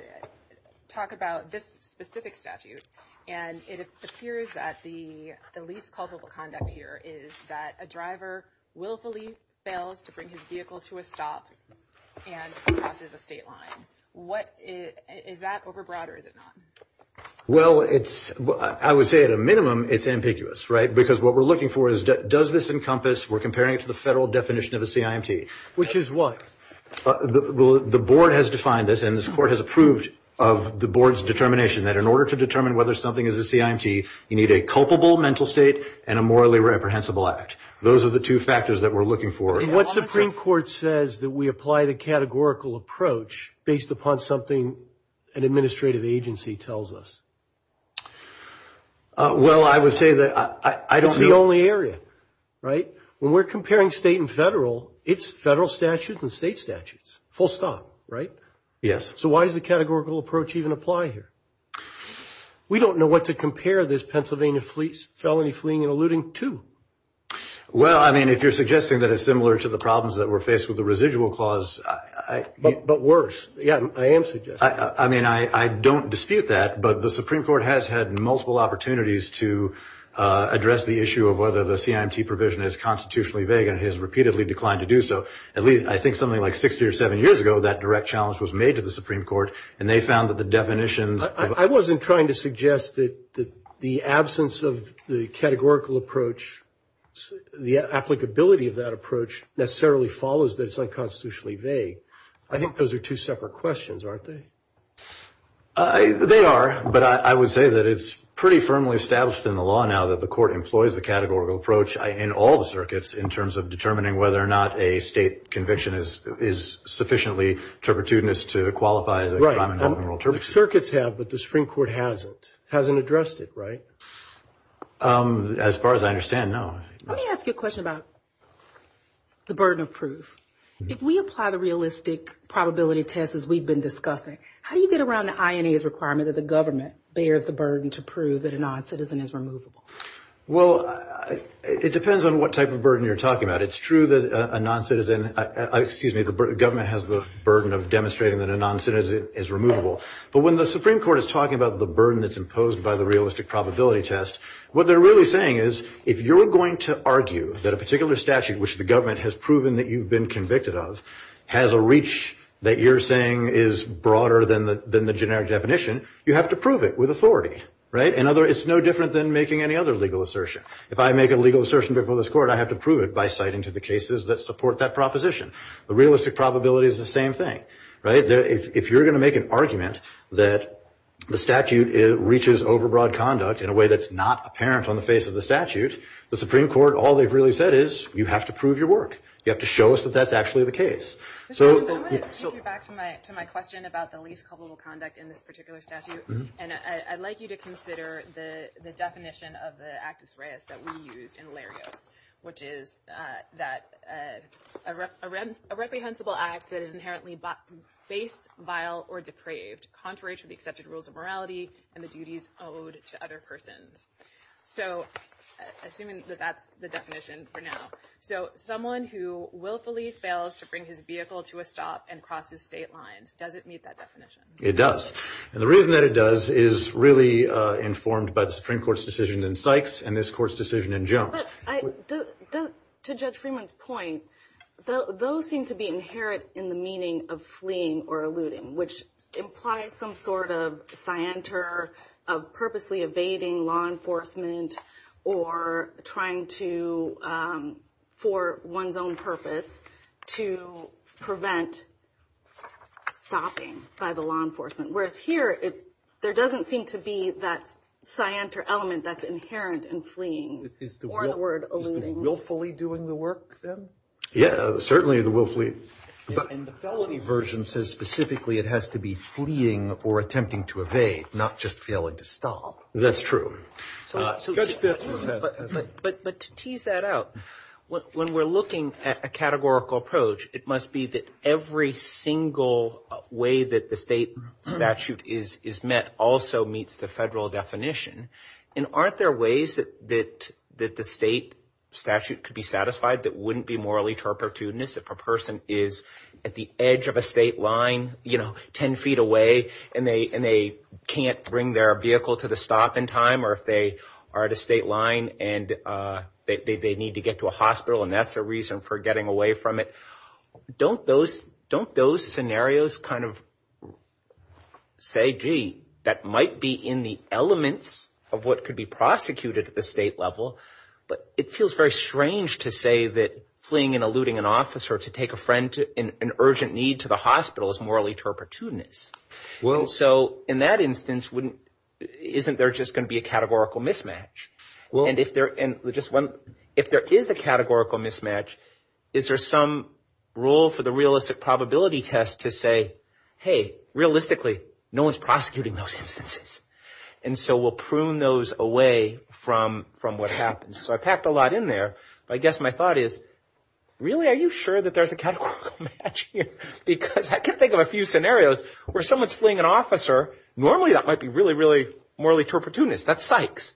talk about this specific statute. And it appears that the least culpable conduct here is that a driver willfully fails to bring his vehicle to a stop and crosses a state line. Is that overbroad or is it not? Well, I would say at a minimum it's ambiguous, right? Because what we're looking for is does this encompass, we're comparing it to the federal definition of a CIMT. Which is what? The board has defined this and this court has approved of the board's determination that in order to determine whether something is a CIMT, you need a culpable mental state and a morally reprehensible act. Those are the two factors that we're looking for. And what Supreme Court says that we apply the categorical approach based upon something an administrative agency tells us? Well, I would say that I don't know. It's the only area, right? When we're comparing state and federal, it's federal statutes and state statutes, full stop, right? Yes. So, why does the categorical approach even apply here? We don't know what to compare this Pennsylvania Felony Fleeing and Eluding to. Well, I mean, if you're suggesting that it's similar to the problems that were faced with the residual clause. But worse. Yeah, I am suggesting. I mean, I don't dispute that. But the Supreme Court has had multiple opportunities to address the issue of whether the CIMT provision is constitutionally vague. And it has repeatedly declined to do so. At least, I think, something like 60 or 70 years ago, that direct challenge was made to the Supreme Court. And they found that the definitions. I wasn't trying to suggest that the absence of the categorical approach, the applicability of that approach, necessarily follows that it's unconstitutionally vague. I think those are two separate questions, aren't they? They are. But I would say that it's pretty firmly established in the law now that the court employs the categorical approach in all the circuits in terms of determining whether or not a state conviction is sufficiently turpitudinous to qualify. The circuits have, but the Supreme Court hasn't. Hasn't addressed it, right? As far as I understand, no. Let me ask you a question about the burden of proof. If we apply the realistic probability test as we've been discussing, how do you get around the INA's requirement that the government bears the burden to prove that a noncitizen is removable? Well, it depends on what type of burden you're talking about. It's true that a government has the burden of demonstrating that a noncitizen is removable. But when the Supreme Court is talking about the burden that's imposed by the realistic probability test, what they're really saying is if you're going to argue that a particular statute, which the government has proven that you've been convicted of, has a reach that you're saying is broader than the generic definition, you have to prove it with authority. It's no different than making any other legal assertion. If I make a legal assertion before this court, I have to prove it by citing to the cases that support that proposition. The realistic probability is the same thing, right? If you're going to make an argument that the statute reaches overbroad conduct in a way that's not apparent on the face of the statute, the Supreme Court, all they've really said is you have to prove your work. You have to show us that that's actually the case. Back to my question about the least culpable conduct in this particular statute. And I'd like you to consider the definition of the actus reus that we used in Hilario, which is that a reprehensible act that is inherently safe, vile, or decraved, contrary to the accepted rules of morality and the duties owed to other persons. So assuming that that's the definition for now. So someone who willfully fails to bring his vehicle to a stop and crosses state lines, does it meet that definition? It does. And the reason that it does is really informed by the Supreme Court's decision in Sykes and this court's decision in Jones. To Judge Freeman's point, those seem to be inherent in the meaning of fleeing or eluding, which implies some sort of scienter of purposely evading law enforcement or trying to, for one's own purpose, to prevent stopping by the law enforcement. Whereas here, there doesn't seem to be that scienter element that's inherent in fleeing or the word eluding. Is the willfully doing the work then? Yeah, certainly the willfully. And the felony version says specifically it has to be fleeing or attempting to evade, not just failing to stop. That's true. But to tease that out, when we're looking at a categorical approach, it must be that every single way that the state statute is met also meets the federal definition. And aren't there ways that the state statute could be satisfied that wouldn't be morally turpitudinous if a person is at the edge of a state line, you know, 10 feet away, and they can't bring their vehicle to the stop in time? Or if they are at a state line and they need to get to a hospital and that's a reason for getting away from it. Don't those scenarios kind of say, gee, that might be in the elements of what could be prosecuted at the state level. But it feels very strange to say that fleeing and eluding an officer to take an urgent need to the hospital is morally turpitudinous. So in that instance, isn't there just going to be a categorical mismatch? And if there is a categorical mismatch, is there some rule for the realistic probability test to say, hey, realistically, no one's prosecuting those instances. And so we'll prune those away from what happens. So I packed a lot in there. I guess my thought is, really, are you sure that there's a categorical match here? Because I can think of a few scenarios where someone's fleeing an officer, normally that might be really, really morally turpitudinous. That's psychs.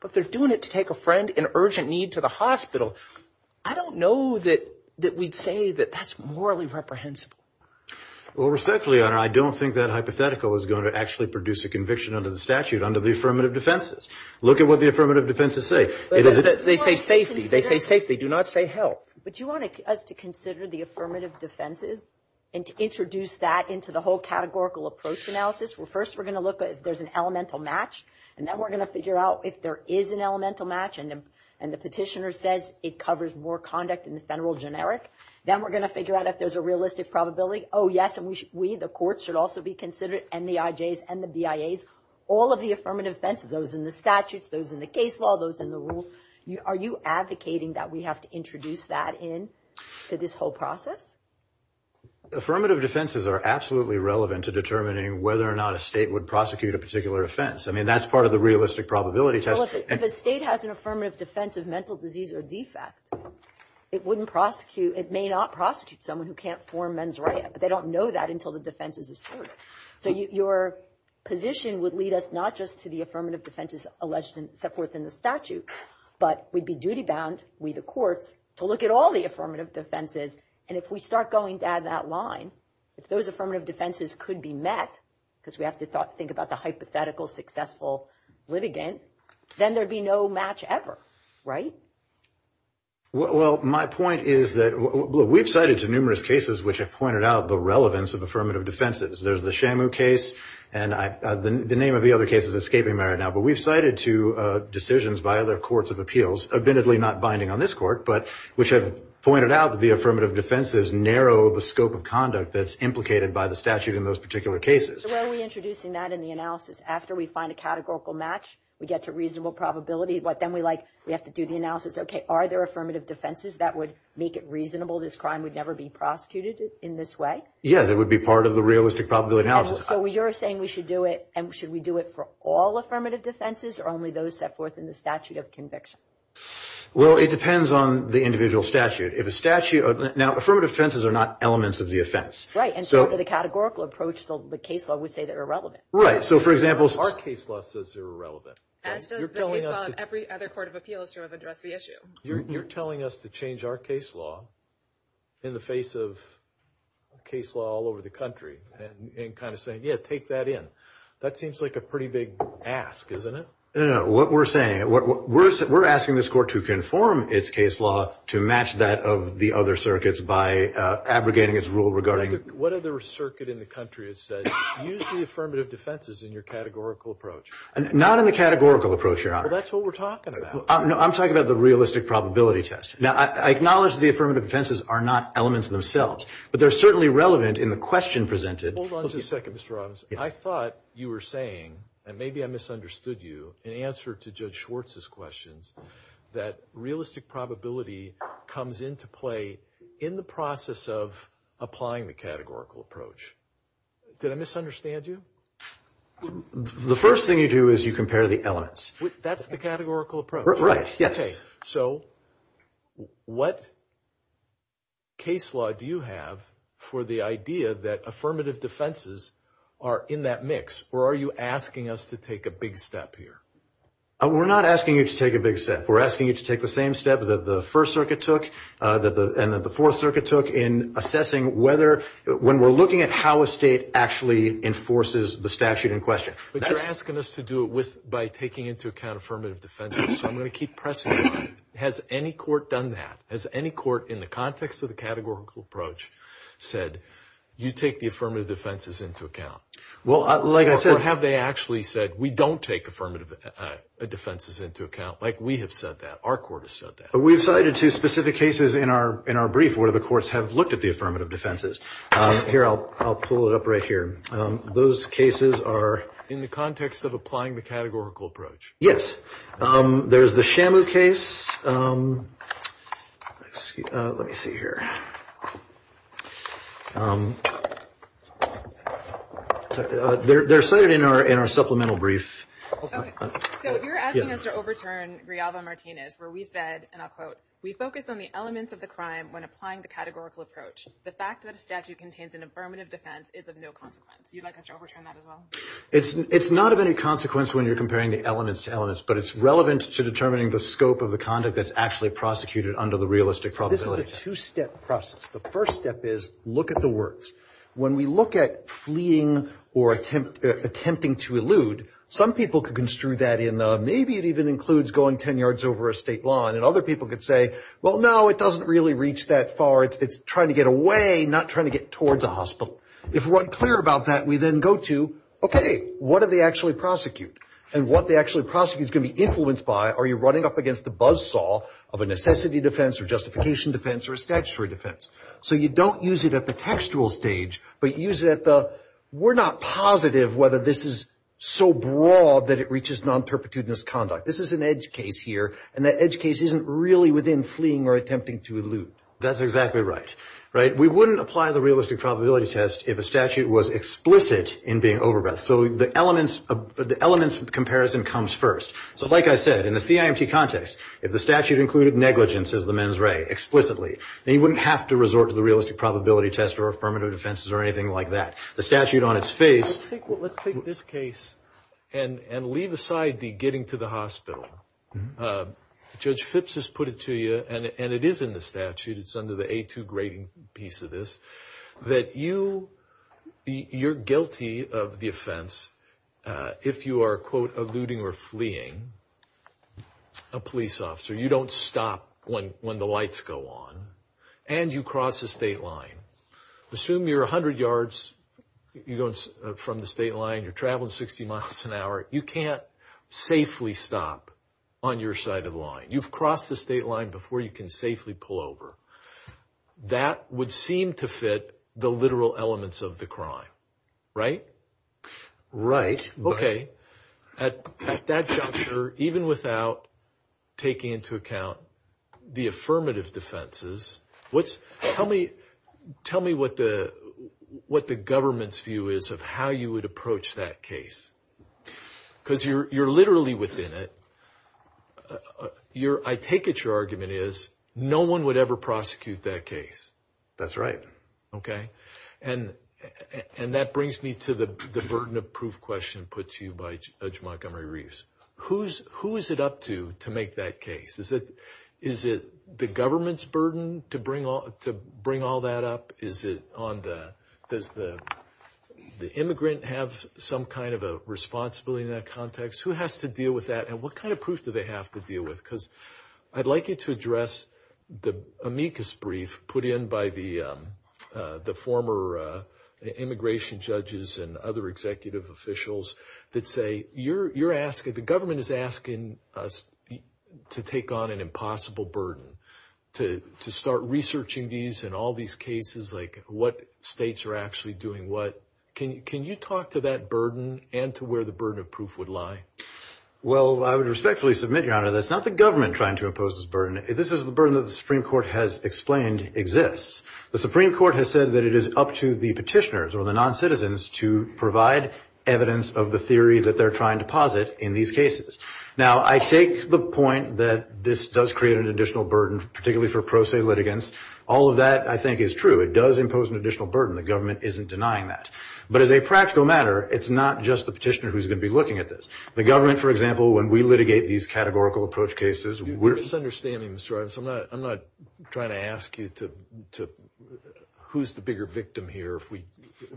But they're doing it to take a friend in urgent need to the hospital. I don't know that we'd say that that's morally reprehensible. Well, respectfully, I don't think that hypothetical is going to actually produce a conviction under the statute, under the affirmative defenses. Look at what the affirmative defenses say. They say safety. They say safety. They do not say health. But you want us to consider the affirmative defenses and to introduce that into the whole categorical approach analysis? First, we're going to look at if there's an elemental match. And then we're going to figure out if there is an elemental match and the petitioner says it covers more conduct than the general generic. Then we're going to figure out if there's a realistic probability. Oh, yes, and we, the courts, should also be considered, and the IJs and the BIAs, all of the affirmative defenses, those in the statutes, those in the case law, those in the rules. Are you advocating that we have to introduce that into this whole process? Affirmative defenses are absolutely relevant to determining whether or not a state would prosecute a particular offense. I mean, that's part of the realistic probability test. Well, if a state has an affirmative defense of mental disease or defect, it wouldn't prosecute, it may not prosecute someone who can't form mens rea. But they don't know that until the defense is asserted. So your position would lead us not just to the affirmative defenses alleged in the statute, but we'd be duty-bound, we the courts, to look at all the affirmative defenses. And if we start going down that line, if those affirmative defenses could be met, because we have to think about the hypothetical successful litigant, then there'd be no match ever, right? Well, my point is that we've cited numerous cases which have pointed out the relevance of affirmative defenses. There's the Shamu case, and the name of the other case is escaping me right now. But we've cited two decisions by other courts of appeals, admittedly not binding on this court, but which have pointed out that the affirmative defenses narrow the scope of conduct that's implicated by the statute in those particular cases. So why are we introducing that in the analysis? After we find a categorical match, we get to reasonable probability, but then we have to do the analysis. Okay, are there affirmative defenses that would make it reasonable this crime would never be prosecuted in this way? Yeah, that would be part of the realistic probability analysis. So you're saying we should do it, and should we do it for all affirmative defenses or only those set forth in the statute of conviction? Well, it depends on the individual statute. Now, affirmative defenses are not elements of the offense. Right, and so for the categorical approach, the case law would say they're irrelevant. Right, so for example, our case law says they're irrelevant. And does the case law of every other court of appeals sort of address the issue? You're telling us to change our case law in the face of case law all over the country and kind of saying, yeah, take that in. That seems like a pretty big ask, isn't it? No, no, what we're saying, we're asking this court to conform its case law to match that of the other circuits by abrogating its rule regarding it. What other circuit in the country has said, use the affirmative defenses in your categorical approach? Not in the categorical approach, Your Honor. Well, that's what we're talking about. I'm talking about the realistic probability test. Now, I acknowledge the affirmative defenses are not elements themselves, but they're certainly relevant in the question presented. Hold on just a second, Mr. Robbins. I thought you were saying, and maybe I misunderstood you, in answer to Judge Schwartz's question, that realistic probability comes into play in the process of applying the categorical approach. Did I misunderstand you? The first thing you do is you compare the elements. That's the categorical approach. Right, yes. Okay, so what case law do you have for the idea that affirmative defenses are in that mix? Or are you asking us to take a big step here? We're not asking you to take a big step. We're asking you to take the same step that the First Circuit took and that the Fourth Circuit took in assessing whether, when we're looking at how a state actually enforces the statute in question. But you're asking us to do it by taking into account affirmative defenses, so I'm going to keep pressing you. Has any court done that? Has any court, in the context of the categorical approach, said, you take the affirmative defenses into account? Well, like I said, have they actually said, we don't take affirmative defenses into account? Like, we have said that. Our court has said that. We've cited two specific cases in our brief where the courts have looked at the affirmative defenses. Here, I'll pull it up right here. Those cases are in the context of applying the categorical approach. Yes. There's the Shamu case. Let me see here. They're cited in our supplemental brief. So you're asking us to overturn Griava-Martinez, where we said, and I'll quote, We focus on the elements of the crime when applying the categorical approach. The fact that a statute contains an affirmative defense is of no consequence. You'd like us to overturn that as well? It's not of any consequence when you're comparing the elements to elements, but it's relevant to determining the scope of the conduct that's actually prosecuted under the realistic probability. This is a two-step process. The first step is, look at the works. When we look at fleeing or attempting to elude, some people can construe that in the, Maybe it even includes going 10 yards over a state line. And other people could say, well, no, it doesn't really reach that far. It's trying to get away, not trying to get towards a hospital. If we're unclear about that, we then go to, okay, what do they actually prosecute? And what they actually prosecute is going to be influenced by, are you running up against the buzzsaw of a necessity defense or justification defense or a statutory defense? So you don't use it at the textual stage, but use it at the, We're not positive whether this is so broad that it reaches nonperpetuitous conduct. This is an edge case here, and the edge case isn't really within fleeing or attempting to elude. That's exactly right. We wouldn't apply the realistic probability test if a statute was explicit in being overrun. So the elements comparison comes first. So like I said, in the CIMT context, if the statute included negligence as the mens re explicitly, then you wouldn't have to resort to the realistic probability test or affirmative defenses or anything like that. The statute on its face. Let's take this case and leave aside the getting to the hospital. Judge Phipps has put it to you, and it is in the statute, it's under the A2 grading piece of this, that you're guilty of the offense if you are, quote, eluding or fleeing a police officer. You don't stop when the lights go on. And you cross a state line. Assume you're 100 yards from the state line. You're traveling 60 miles an hour. You can't safely stop on your side of the line. You've crossed the state line before you can safely pull over. That would seem to fit the literal elements of the crime, right? Right. Okay. At that juncture, even without taking into account the affirmative defenses, tell me what the government's view is of how you would approach that case. Because you're literally within it. I take it your argument is no one would ever prosecute that case. That's right. Okay. And that brings me to the burden of proof question put to you by Judge Montgomery Reeves. Who is it up to to make that case? Is it the government's burden to bring all that up? Does the immigrant have some kind of a responsibility in that context? Who has to deal with that, and what kind of proof do they have to deal with? Because I'd like you to address the amicus brief put in by the former immigration judges and other executive officials that say the government is asking us to take on an impossible burden, to start researching these and all these cases, like what states are actually doing what. Can you talk to that burden and to where the burden of proof would lie? Well, I would respectfully submit, Your Honor, that it's not the government trying to oppose this burden. This is the burden that the Supreme Court has explained exists. The Supreme Court has said that it is up to the petitioners or the noncitizens to provide evidence of the theory that they're trying to posit in these cases. Now, I take the point that this does create an additional burden, particularly for pro se litigants. All of that, I think, is true. It does impose an additional burden. The government isn't denying that. But as a practical matter, it's not just the petitioner who's going to be looking at this. The government, for example, when we litigate these categorical approach cases, we're I'm not trying to ask you who's the bigger victim here if we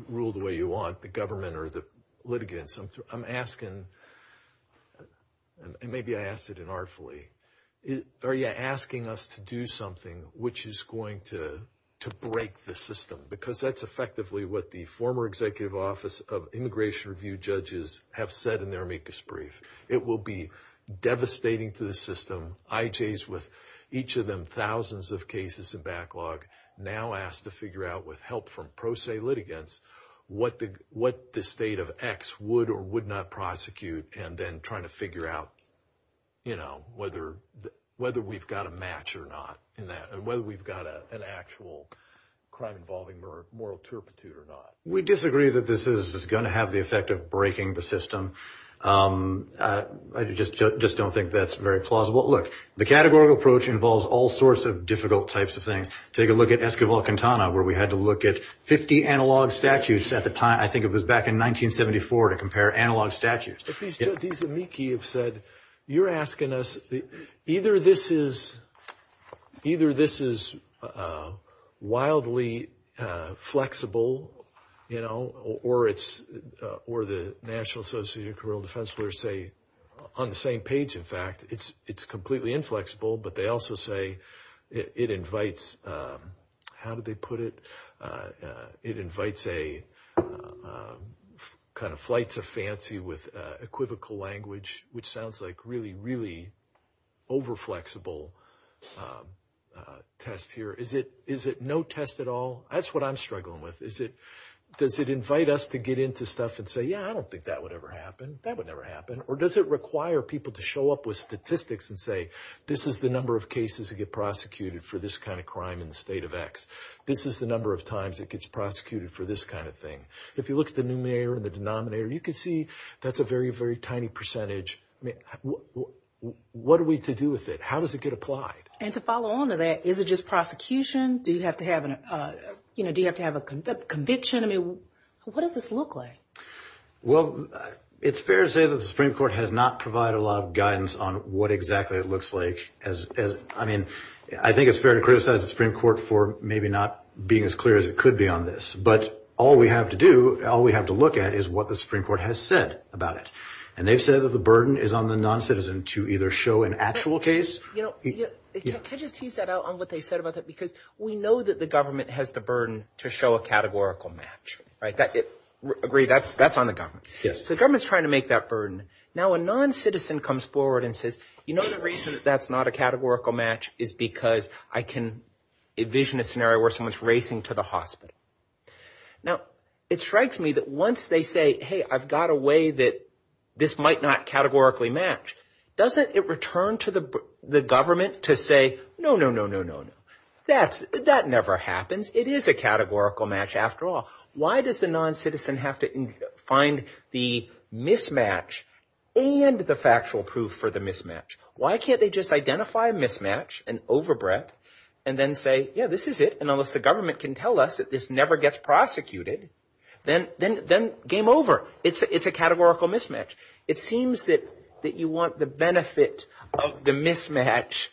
rule the way you want, the government or the litigants. I'm asking, and maybe I asked it inartfully, are you asking us to do something which is going to break the system? Because that's effectively what the former Executive Office of Immigration Review judges have said in their amicus brief. It will be devastating to the system, IJs with each of them thousands of cases in backlog, now asked to figure out with help from pro se litigants what the state of X would or would not prosecute and then trying to figure out, you know, whether we've got a match or not, whether we've got an actual crime involving moral turpitude or not. We disagree that this is going to have the effect of breaking the system. I just don't think that's very plausible. Look, the categorical approach involves all sorts of difficult types of things. Take a look at Escobar-Quintana, where we had to look at 50 analog statues at the time. I think it was back in 1974 to compare analog statues. These amici have said, you're asking us, either this is wildly flexible, you know, or the National Association of Criminal Defense lawyers say on the same page, in fact, it's completely inflexible. But they also say it invites, how do they put it, it invites a kind of flight to fancy with equivocal language, which sounds like really, really overflexible test here. Is it no test at all? That's what I'm struggling with. Does it invite us to get into stuff and say, yeah, I don't think that would ever happen, that would never happen? Or does it require people to show up with statistics and say, this is the number of cases that get prosecuted for this kind of crime in the state of X. This is the number of times it gets prosecuted for this kind of thing. If you look at the numerator and the denominator, you can see that's a very, very tiny percentage. What are we to do with it? How does it get applied? And to follow on to that, is it just prosecution? Do you have to have a conviction? I mean, what does this look like? Well, it's fair to say that the Supreme Court has not provided a lot of guidance on what exactly it looks like. I mean, I think it's fair to criticize the Supreme Court for maybe not being as clear as it could be on this. But all we have to do, all we have to look at is what the Supreme Court has said about it. And they've said that the burden is on the noncitizen to either show an actual case. Can you tease that out on what they said about that? Because we know that the government has the burden to show a categorical match. I agree, that's on the government. The government's trying to make that burden. Now, a noncitizen comes forward and says, you know the reason that that's not a categorical match is because I can envision a scenario where someone's racing to the hospital. Now, it strikes me that once they say, hey, I've got a way that this might not categorically match, doesn't it return to the government to say, no, no, no, no, no, no. That never happens. It is a categorical match after all. Why does the noncitizen have to find the mismatch and the factual proof for the mismatch? Why can't they just identify a mismatch, an overbreath, and then say, yeah, this is it. And unless the government can tell us that this never gets prosecuted, then game over. It's a categorical mismatch. It seems that you want the benefit of the mismatch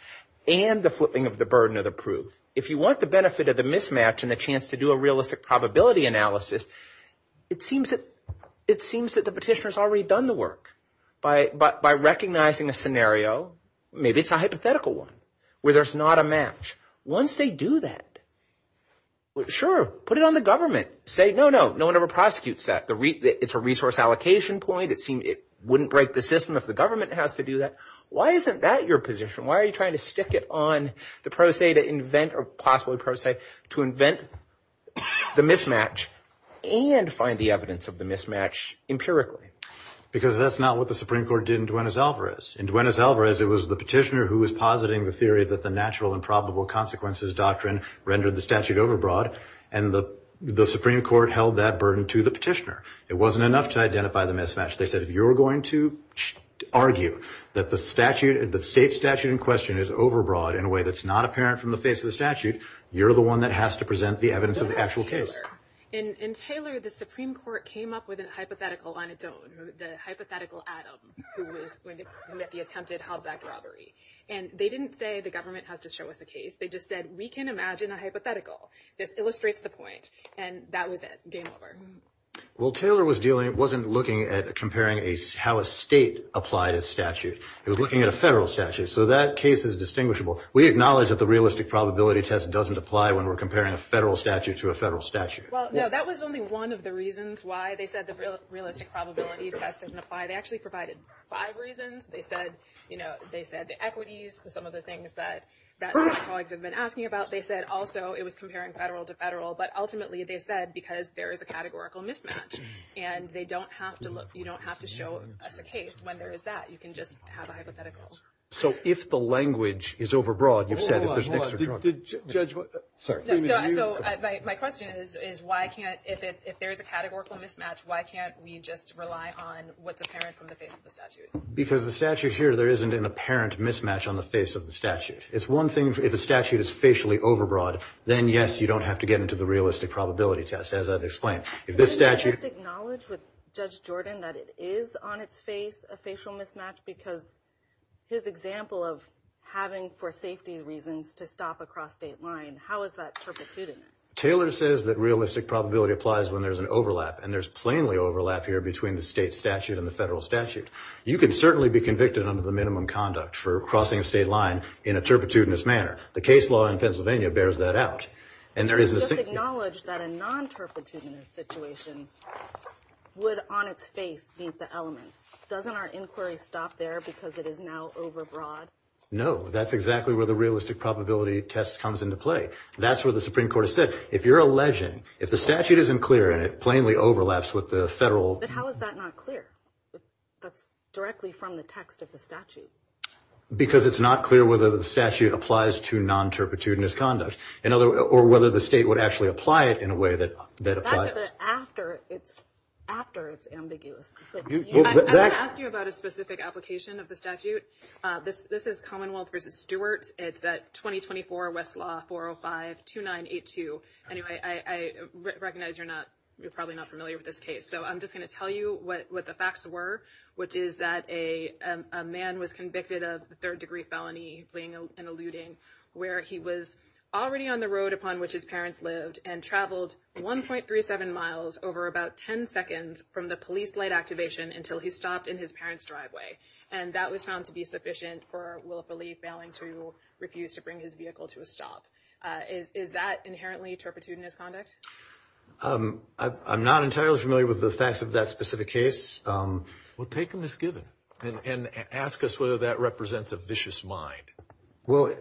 and the flipping of the burden of the proof. If you want the benefit of the mismatch and the chance to do a realistic probability analysis, it seems that the petitioner's already done the work. By recognizing a scenario, maybe it's a hypothetical one where there's not a match. Once they do that, sure, put it on the government. Say, no, no, no one ever prosecutes that. It's a resource allocation point. It wouldn't break the system if the government has to do that. Why isn't that your position? Why are you trying to stick it on the pro se to invent or possibly pro se to invent the mismatch and find the evidence of the mismatch empirically? Because that's not what the Supreme Court did in Duenas-Alvarez. In Duenas-Alvarez, it was the petitioner who was positing the theory that the natural and probable consequences doctrine rendered the statute overbroad, and the Supreme Court held that burden to the petitioner. It wasn't enough to identify the mismatch. They said, if you're going to argue that the statute, the state statute in question, is overbroad in a way that's not apparent from the face of the statute, you're the one that has to present the evidence of the actual case. In Taylor, the Supreme Court came up with a hypothetical anecdote, the hypothetical Adam who was going to be at the attempted held-back robbery, and they didn't say the government has to show us a case. They just said, we can imagine a hypothetical that illustrates the point, and that was it. Game over. Well, Taylor wasn't looking at comparing how a state applied a statute. It was looking at a federal statute, so that case is distinguishable. We acknowledge that the realistic probability test doesn't apply when we're comparing a federal statute to a federal statute. Well, no, that was only one of the reasons why they said the realistic probability test didn't apply. They actually provided five reasons. They said the equities, some of the things that my colleagues have been asking about. They said also it was comparing federal to federal, but ultimately they said because there is a categorical mismatch, and they don't have to look. You don't have to show us a case when there is that. You can just have a hypothetical. So if the language is overbroad, you said that there's an extra charge. So my question is, if there is a categorical mismatch, why can't we just rely on what's apparent from the face of the statute? Because the statute here, there isn't an apparent mismatch on the face of the statute. It's one thing if the statute is facially overbroad. Then, yes, you don't have to get into the realistic probability test, as I've explained. If the statute – Can you just acknowledge with Judge Jordan that it is on its face a facial mismatch because his example of having for safety reasons to stop a cross-state line, how is that troubleshooting it? Taylor says that realistic probability applies when there's an overlap, and there's plainly overlap here between the state statute and the federal statute. You can certainly be convicted under the minimum conduct for crossing a state line in a turpitudinous manner. The case law in Pennsylvania bears that out. Just acknowledge that a non-turpitudinous situation would on its face meet the elements. Doesn't our inquiry stop there because it is now overbroad? No, that's exactly where the realistic probability test comes into play. That's what the Supreme Court has said. If you're a legend, if the statute isn't clear and it plainly overlaps with the federal – Directly from the text of the statute. Because it's not clear whether the statute applies to non-turpitudinous conduct, or whether the state would actually apply it in a way that applies – That's the after. After is ambiguous. I asked you about a specific application of the statute. This is Commonwealth v. Stewart. It's at 2024 Westlaw 405-2982. Anyway, I recognize you're probably not familiar with this case, so I'm just going to tell you what the facts were, which is that a man was convicted of a third-degree felony, including an eluding, where he was already on the road upon which his parents lived and traveled 1.37 miles, over about 10 seconds, from the police light activation until he stopped in his parents' driveway. And that was found to be sufficient for Will Phillipe, failing to refuse to bring his vehicle to a stop. Is that inherently turpitudinous conduct? I'm not entirely familiar with the facts of that specific case. We'll take a misgiven and ask us whether that represents a vicious mind. Well,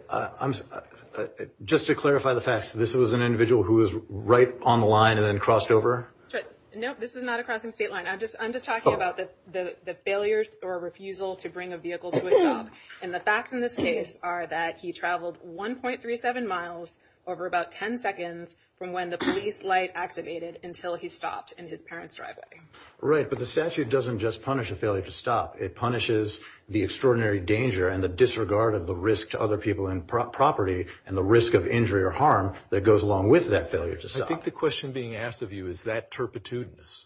just to clarify the facts, this was an individual who was right on the line and then crossed over? No, this is not a crossing state line. I'm just talking about the failure or refusal to bring a vehicle to a stop. And the facts in this case are that he traveled 1.37 miles, over about 10 seconds, from when the police light activated until he stopped in his parents' driveway. Right, but the statute doesn't just punish a failure to stop. It punishes the extraordinary danger and the disregard of the risk to other people and property and the risk of injury or harm that goes along with that failure to stop. I think the question being asked of you, is that turpitudinous?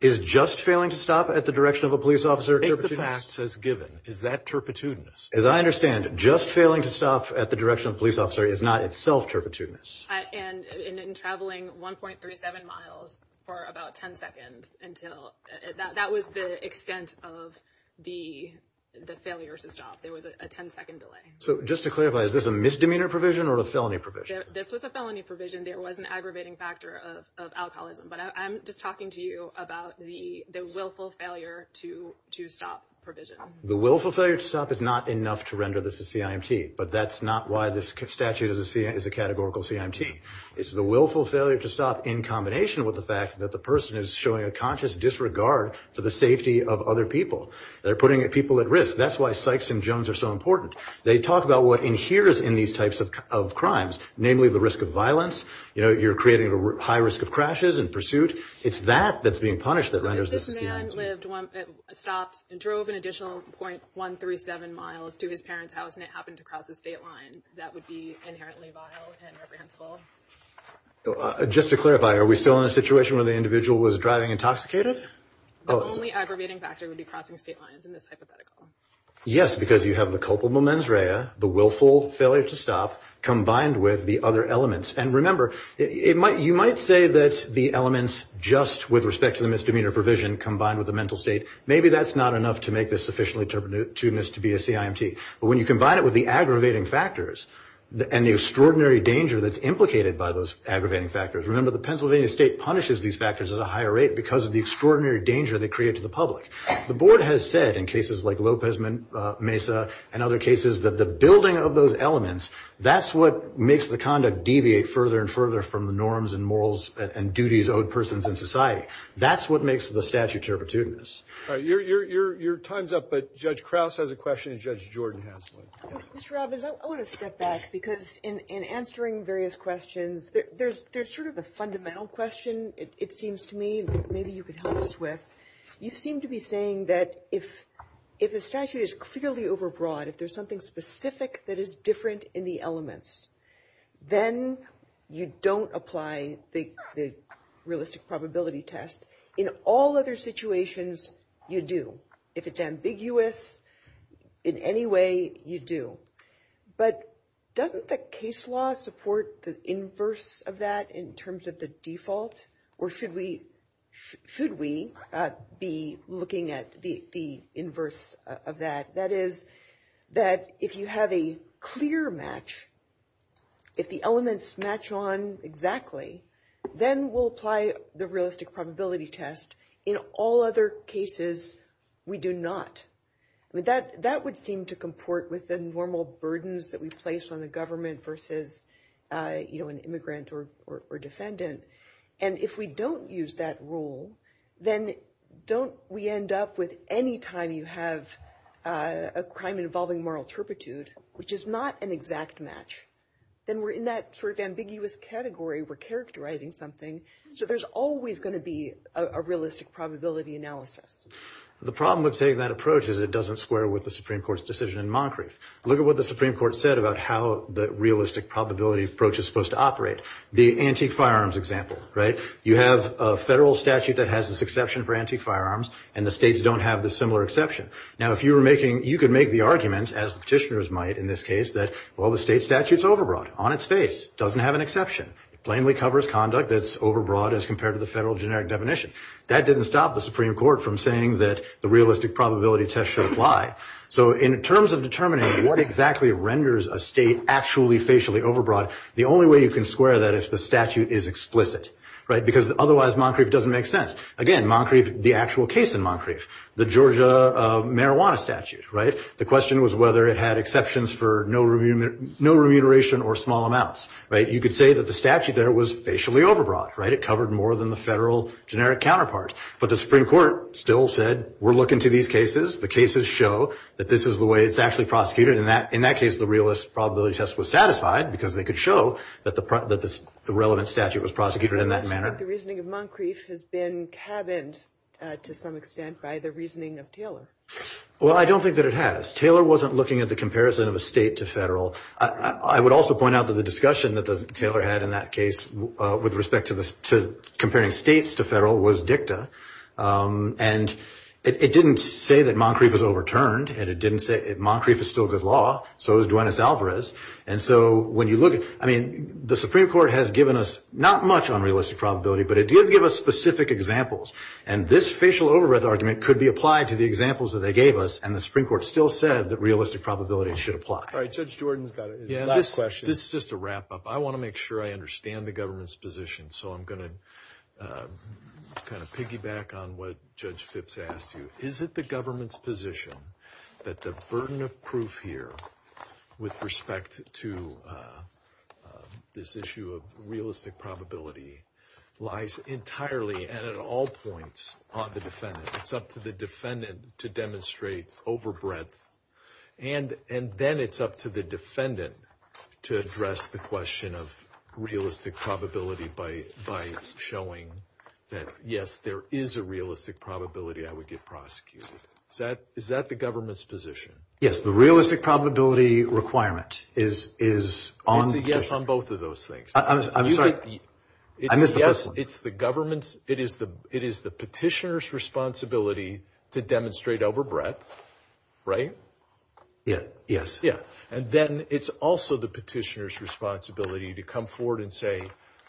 Is just failing to stop at the direction of a police officer turpitudinous? If the fact says given, is that turpitudinous? As I understand, just failing to stop at the direction of a police officer is not itself turpitudinous. And in traveling 1.37 miles for about 10 seconds until – that was the extent of the failure to stop. It was a 10-second delay. So just to clarify, is this a misdemeanor provision or a felony provision? This was a felony provision. There was an aggravating factor of alcoholism. But I'm just talking to you about the willful failure to stop provision. The willful failure to stop is not enough to render this a CIMT, but that's not why this statute is a categorical CIMT. It's the willful failure to stop in combination with the fact that the person is showing a conscious disregard for the safety of other people. They're putting people at risk. That's why Sykes and Jones are so important. They talk about what inheres in these types of crimes, namely the risk of violence. You're creating a high risk of crashes and pursuit. It's that that's being punished that renders this a CIMT. This man stopped and drove an additional .137 miles to his parents' house and it happened to cross a state line that would be inherently vile and reprehensible. Just to clarify, are we still in a situation where the individual was driving intoxicated? The only aggravating factor would be crossing state lines in this hypothetical. Yes, because you have the culpable mens rea, the willful failure to stop, combined with the other elements. And remember, you might say that the elements just with respect to the misdemeanor provision combined with the mental state, maybe that's not enough to make this sufficiently to be a CIMT. But when you combine it with the aggravating factors and the extraordinary danger that's implicated by those aggravating factors, remember the Pennsylvania state punishes these factors at a higher rate because of the extraordinary danger they create to the public. The board has said in cases like Lopez Mesa and other cases that the building of those elements, that's what makes the conduct deviate further and further from the norms and morals and duties owed persons in society. That's what makes the statute herpetudinous. Your time's up, but Judge Krause has a question and Judge Jordan has one. Mr. Robbins, I want to step back because in answering various questions, there's sort of a fundamental question, it seems to me, maybe you could help us with. You seem to be saying that if a statute is clearly overbroad, if there's something specific that is different in the elements, then you don't apply the realistic probability test. In all other situations, you do. If it's ambiguous in any way, you do. But doesn't the case law support the inverse of that in terms of the default? Or should we be looking at the inverse of that? That is that if you have a clear match, if the elements match on exactly, then we'll apply the realistic probability test. In all other cases, we do not. That would seem to comport with the normal burdens that we place on the government versus an immigrant or defendant. And if we don't use that rule, then don't we end up with any time you have a crime involving moral turpitude, which is not an exact match, then we're in that sort of ambiguous category. We're characterizing something. So there's always going to be a realistic probability analysis. The problem with taking that approach is it doesn't square with the Supreme Court's decision in Moncrief. Look at what the Supreme Court said about how the realistic probability approach is supposed to operate. The antique firearms example, right? You have a federal statute that has this exception for antique firearms, and the states don't have this similar exception. Now, if you were making, you could make the argument, as petitioners might in this case, that, well, the state statute's overbroad, on its face, doesn't have an exception. It plainly covers conduct that's overbroad as compared to the federal generic definition. That didn't stop the Supreme Court from saying that the realistic probability test should apply. So in terms of determining what exactly renders a state actually facially overbroad, the only way you can square that is if the statute is explicit, right? Because otherwise, Moncrief doesn't make sense. Again, Moncrief, the actual case in Moncrief, the Georgia marijuana statute, right? The question was whether it had exceptions for no remuneration or small amounts, right? You could say that the statute there was facially overbroad, right? It covered more than the federal generic counterpart. But the Supreme Court still said, we're looking to these cases. The cases show that this is the way it's actually prosecuted. And in that case, the realistic probability test was satisfied because they could show that the relevant statute was prosecuted in that manner. But the reasoning of Moncrief has been cabined to some extent by the reasoning of Taylor. Well, I don't think that it has. Taylor wasn't looking at the comparison of a state to federal. I would also point out that the discussion that Taylor had in that case with respect to comparing states to federal was dicta. And it didn't say that Moncrief was overturned. And it didn't say that Moncrief is still good law. So is Duenas-Alvarez. And so when you look at it, I mean, the Supreme Court has given us not much on realistic probability, but it did give us specific examples. And this facial override argument could be applied to the examples that they gave us. And the Supreme Court still said that realistic probabilities should apply. All right, Judge Jordan's got his last question. This is just a wrap-up. I want to make sure I understand the government's position. So I'm going to kind of piggyback on what Judge Fitz asked you. Is it the government's position that the burden of proof here with respect to this issue of realistic probability lies entirely and at all points on the defendant? It's up to the defendant to demonstrate over breadth. And then it's up to the defendant to address the question of realistic probability by showing that, yes, there is a realistic probability I would get prosecuted. Is that the government's position? Yes. The realistic probability requirement is on the defendant. It's a yes on both of those things. I'm sorry. I missed the first one. It's the petitioner's responsibility to demonstrate over breadth, right? Yes. And then it's also the petitioner's responsibility to come forward and say,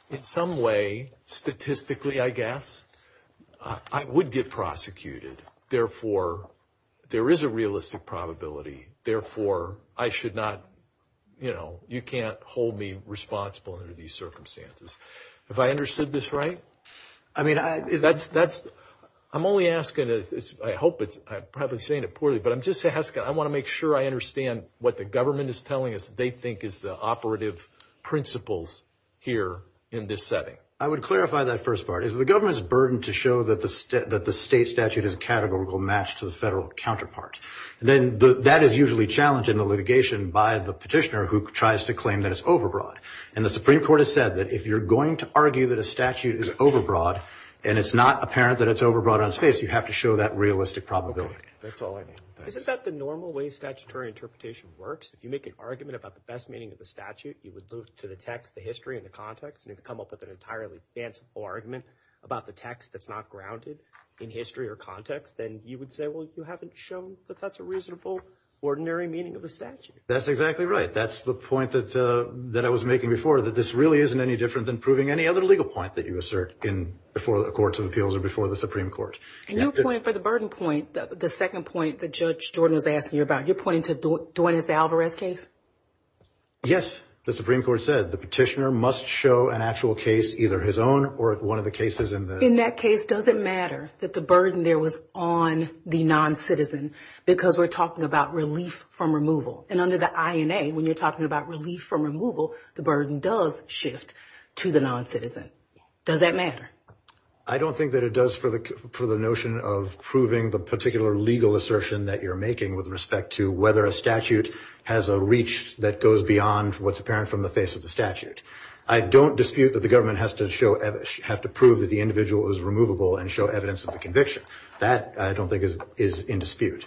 in some way, statistically, I guess, I would get prosecuted. Therefore, there is a realistic probability. Therefore, I should not, you know, you can't hold me responsible under these circumstances. Have I understood this right? I mean, that's – I'm only asking, I hope it's – I'm probably saying it poorly, but I'm just asking, I want to make sure I understand what the government is telling us they think is the operative principles here in this setting. I would clarify that first part. Is it the government's burden to show that the state statute is categorical match to the federal counterpart? And then that is usually challenged in the litigation by the petitioner who tries to claim that it's over broad. And the Supreme Court has said that if you're going to argue that a statute is over broad, and it's not apparent that it's over broad on space, you have to show that realistic probability. That's all I need. Isn't that the normal way statutory interpretation works? If you make an argument about the best meaning of the statute, you would move to the text, the history, and the context. And if you come up with an entirely fanciful argument about the text that's not grounded in history or context, then you would say, well, you haven't shown that that's a reasonable, ordinary meaning of the statute. That's exactly right. That's the point that I was making before, that this really isn't any different than proving any other legal point that you assert before the Courts of Appeals or before the Supreme Court. And your point for the burden point, the second point that Judge Jordan was asking you about, you're pointing to Dwayne's Alvarez case? Yes. The Supreme Court said the petitioner must show an actual case, either his own or one of the cases in the- In that case, does it matter that the burden there was on the non-citizen? Because we're talking about relief from removal. And under the INA, when you're talking about relief from removal, the burden does shift to the non-citizen. Does that matter? I don't think that it does for the notion of proving the particular legal assertion that you're making with respect to whether a statute has a reach that goes beyond what's apparent from the face of the statute. I don't dispute that the government has to prove that the individual is removable and show evidence of the conviction. That, I don't think, is in dispute.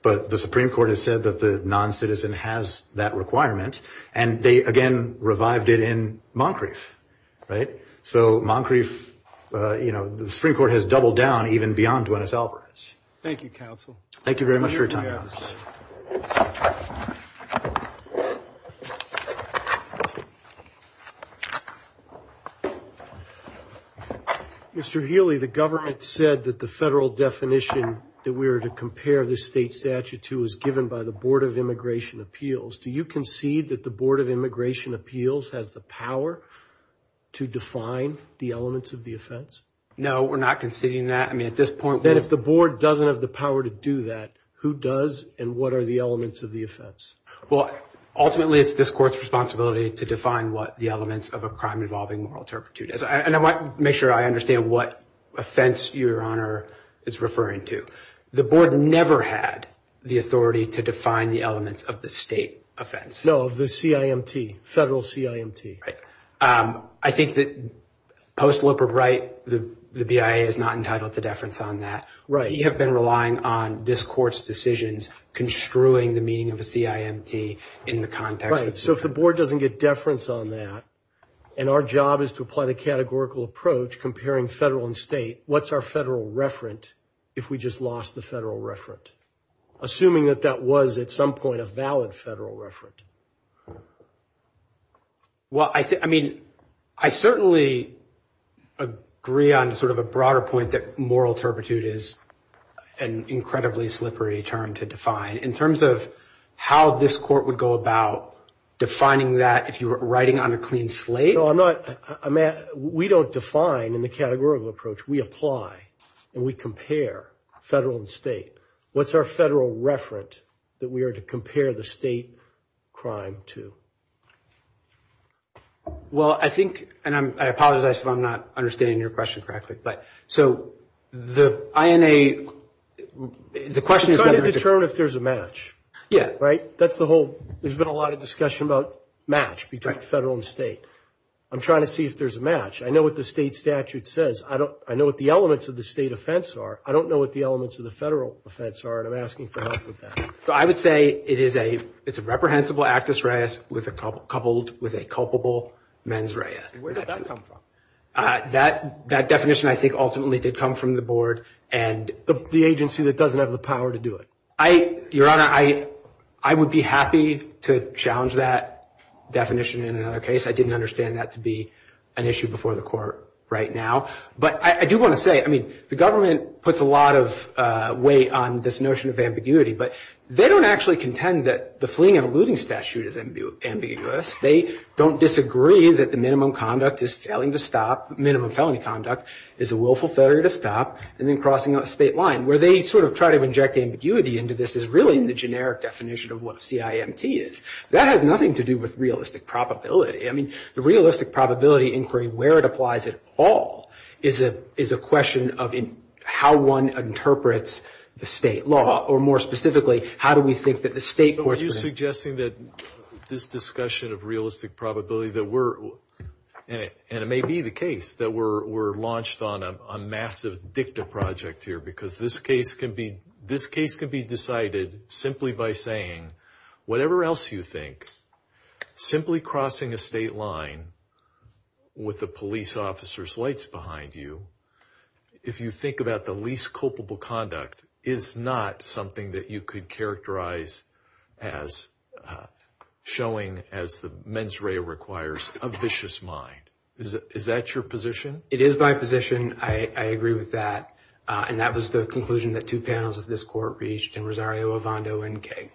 But the Supreme Court has said that the non-citizen has that requirement. And they, again, revived it in Moncrief, right? So, Moncrief, you know, the Supreme Court has doubled down even beyond Dwayne's Alvarez. Thank you, counsel. Thank you very much for your time. Mr. Healy, the government said that the federal definition that we were to compare the state statute to was given by the Board of Immigration Appeals. Do you concede that the Board of Immigration Appeals has the power to define the elements of the offense? No, we're not conceding that. Then if the Board doesn't have the power to do that, who does and what are the elements of the offense? Well, ultimately, it's this court's responsibility to define what the elements of a crime involving moral turpitude is. And I want to make sure I understand what offense your Honor is referring to. The Board never had the authority to define the elements of the state offense. No, the CIMT, federal CIMT. I think that post-Loper, right, the BIA is not entitled to deference on that. Right. We have been relying on this court's decisions construing the meaning of the CIMT in the context. So if the Board doesn't get deference on that and our job is to apply the categorical approach comparing federal and state, what's our federal referent if we just lost the federal referent, assuming that that was at some point a valid federal referent? Well, I mean, I certainly agree on sort of a broader point that moral turpitude is an incredibly slippery term to define. In terms of how this court would go about defining that if you were writing on a clean slate. I mean, we don't define in the categorical approach. We apply and we compare federal and state. What's our federal referent that we are to compare the state crime to? Well, I think, and I apologize if I'm not understanding your question correctly, but so the INA, the question is. I'm trying to determine if there's a match. Yeah. Right? That's the whole, there's been a lot of discussion about match between federal and state. I'm trying to see if there's a match. I know what the state statute says. I know what the elements of the state offense are. I don't know what the elements of the federal offense are, and I'm asking for help with that. So I would say it is a, it's a reprehensible actus reus coupled with a culpable mens rea. Where did that come from? That definition, I think, ultimately did come from the board and. The agency that doesn't have the power to do it. Your Honor, I would be happy to challenge that definition in another case. I didn't understand that to be an issue before the court right now. But I do want to say, I mean, the government puts a lot of weight on this notion of ambiguity, but they don't actually contend that the fleeing and eluding statute is ambiguous. They don't disagree that the minimum conduct is failing to stop, minimum felony conduct is a willful failure to stop, and then crossing that state line. Where they sort of try to inject ambiguity into this is really in the generic definition of what CIMT is. That has nothing to do with realistic probability. I mean, the realistic probability inquiry, where it applies at all, is a question of how one interprets the state law, or more specifically, how do we think that the state courts. Are you suggesting that this discussion of realistic probability that we're, and it may be the case, that we're launched on a massive dicta project here because this case can be, this case can be decided simply by saying, whatever else you think, simply crossing a state line with the police officer's lights behind you, if you think about the least culpable conduct, is not something that you could characterize as showing as the mens rea requires a vicious mind. Is that your position? It is my position. I agree with that. And that was the conclusion that two panels of this court reached in Rosario Evando NK.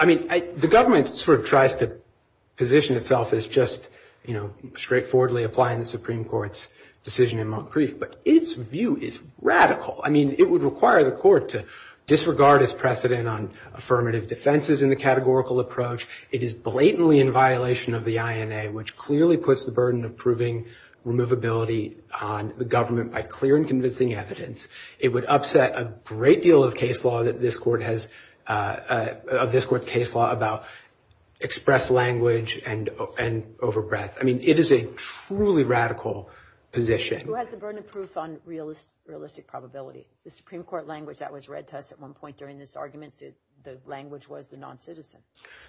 I mean, the government sort of tries to position itself as just, you know, straightforwardly applying the Supreme Court's decision in Moncrief, but its view is radical. I mean, it would require the court to disregard its precedent on affirmative defenses in the categorical approach. It is blatantly in violation of the INA, which clearly puts the burden of proving removability on the government by clear and convincing evidence. It would upset a great deal of case law that this court has, of this court's case law, about express language and over breadth. I mean, it is a truly radical position. Who has the burden of proof on realistic probability? The Supreme Court language that was read to us at one point during this argument, the language was the non-citizen.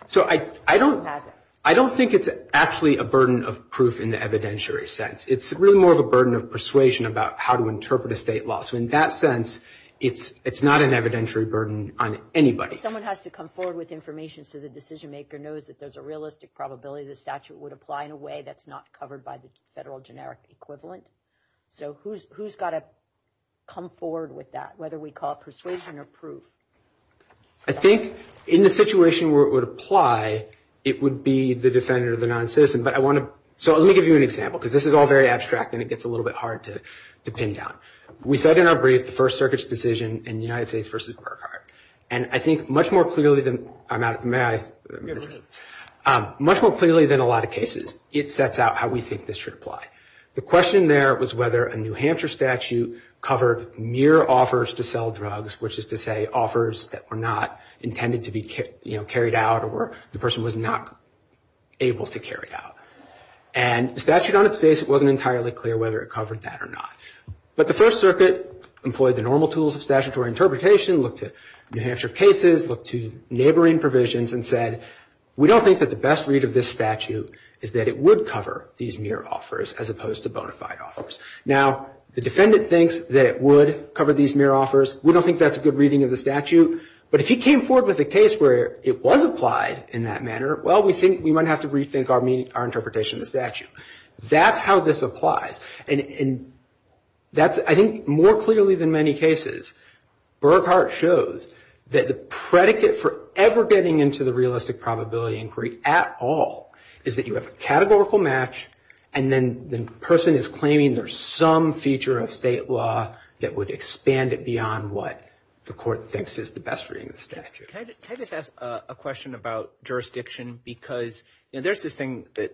So I don't think it's actually a burden of proof in the evidentiary sense. It's really more of a burden of persuasion about how to interpret a state law. So in that sense, it's not an evidentiary burden on anybody. Someone has to come forward with information so the decision maker knows that there's a realistic probability the statute would apply in a way that's not covered by the federal generic equivalent. So who's got to come forward with that, whether we call it persuasion or proof? I think in the situation where it would apply, it would be the defendant or the non-citizen. But I want to – so let me give you an example because this is all very abstract and it gets a little bit hard to pin down. We said in our brief the First Circuit's decision in the United States v. Burkhart. And I think much more clearly than – may I? Much more clearly than a lot of cases, it sets out how we think this should apply. The question there was whether a New Hampshire statute covered mere offers to sell drugs, which is to say offers that were not intended to be carried out or the person was not able to carry out. And the statute on its face wasn't entirely clear whether it covered that or not. But the First Circuit employed the normal tools of statutory interpretation, looked at New Hampshire cases, looked to neighboring provisions and said, we don't think that the best read of this statute is that it would cover these mere offers as opposed to bona fide offers. Now, the defendant thinks that it would cover these mere offers. We don't think that's a good reading of the statute. But if he came forward with a case where it was applied in that manner, well, we might have to rethink our interpretation of the statute. That's how this applies. And I think more clearly than many cases, Burkhart shows that the predicate for ever getting into the realistic probability inquiry at all is that you have a categorical match and then the person is claiming there's some feature of state law that would expand it beyond what the court thinks is the best reading of the statute. Can I just ask a question about jurisdiction? Because there's this thing that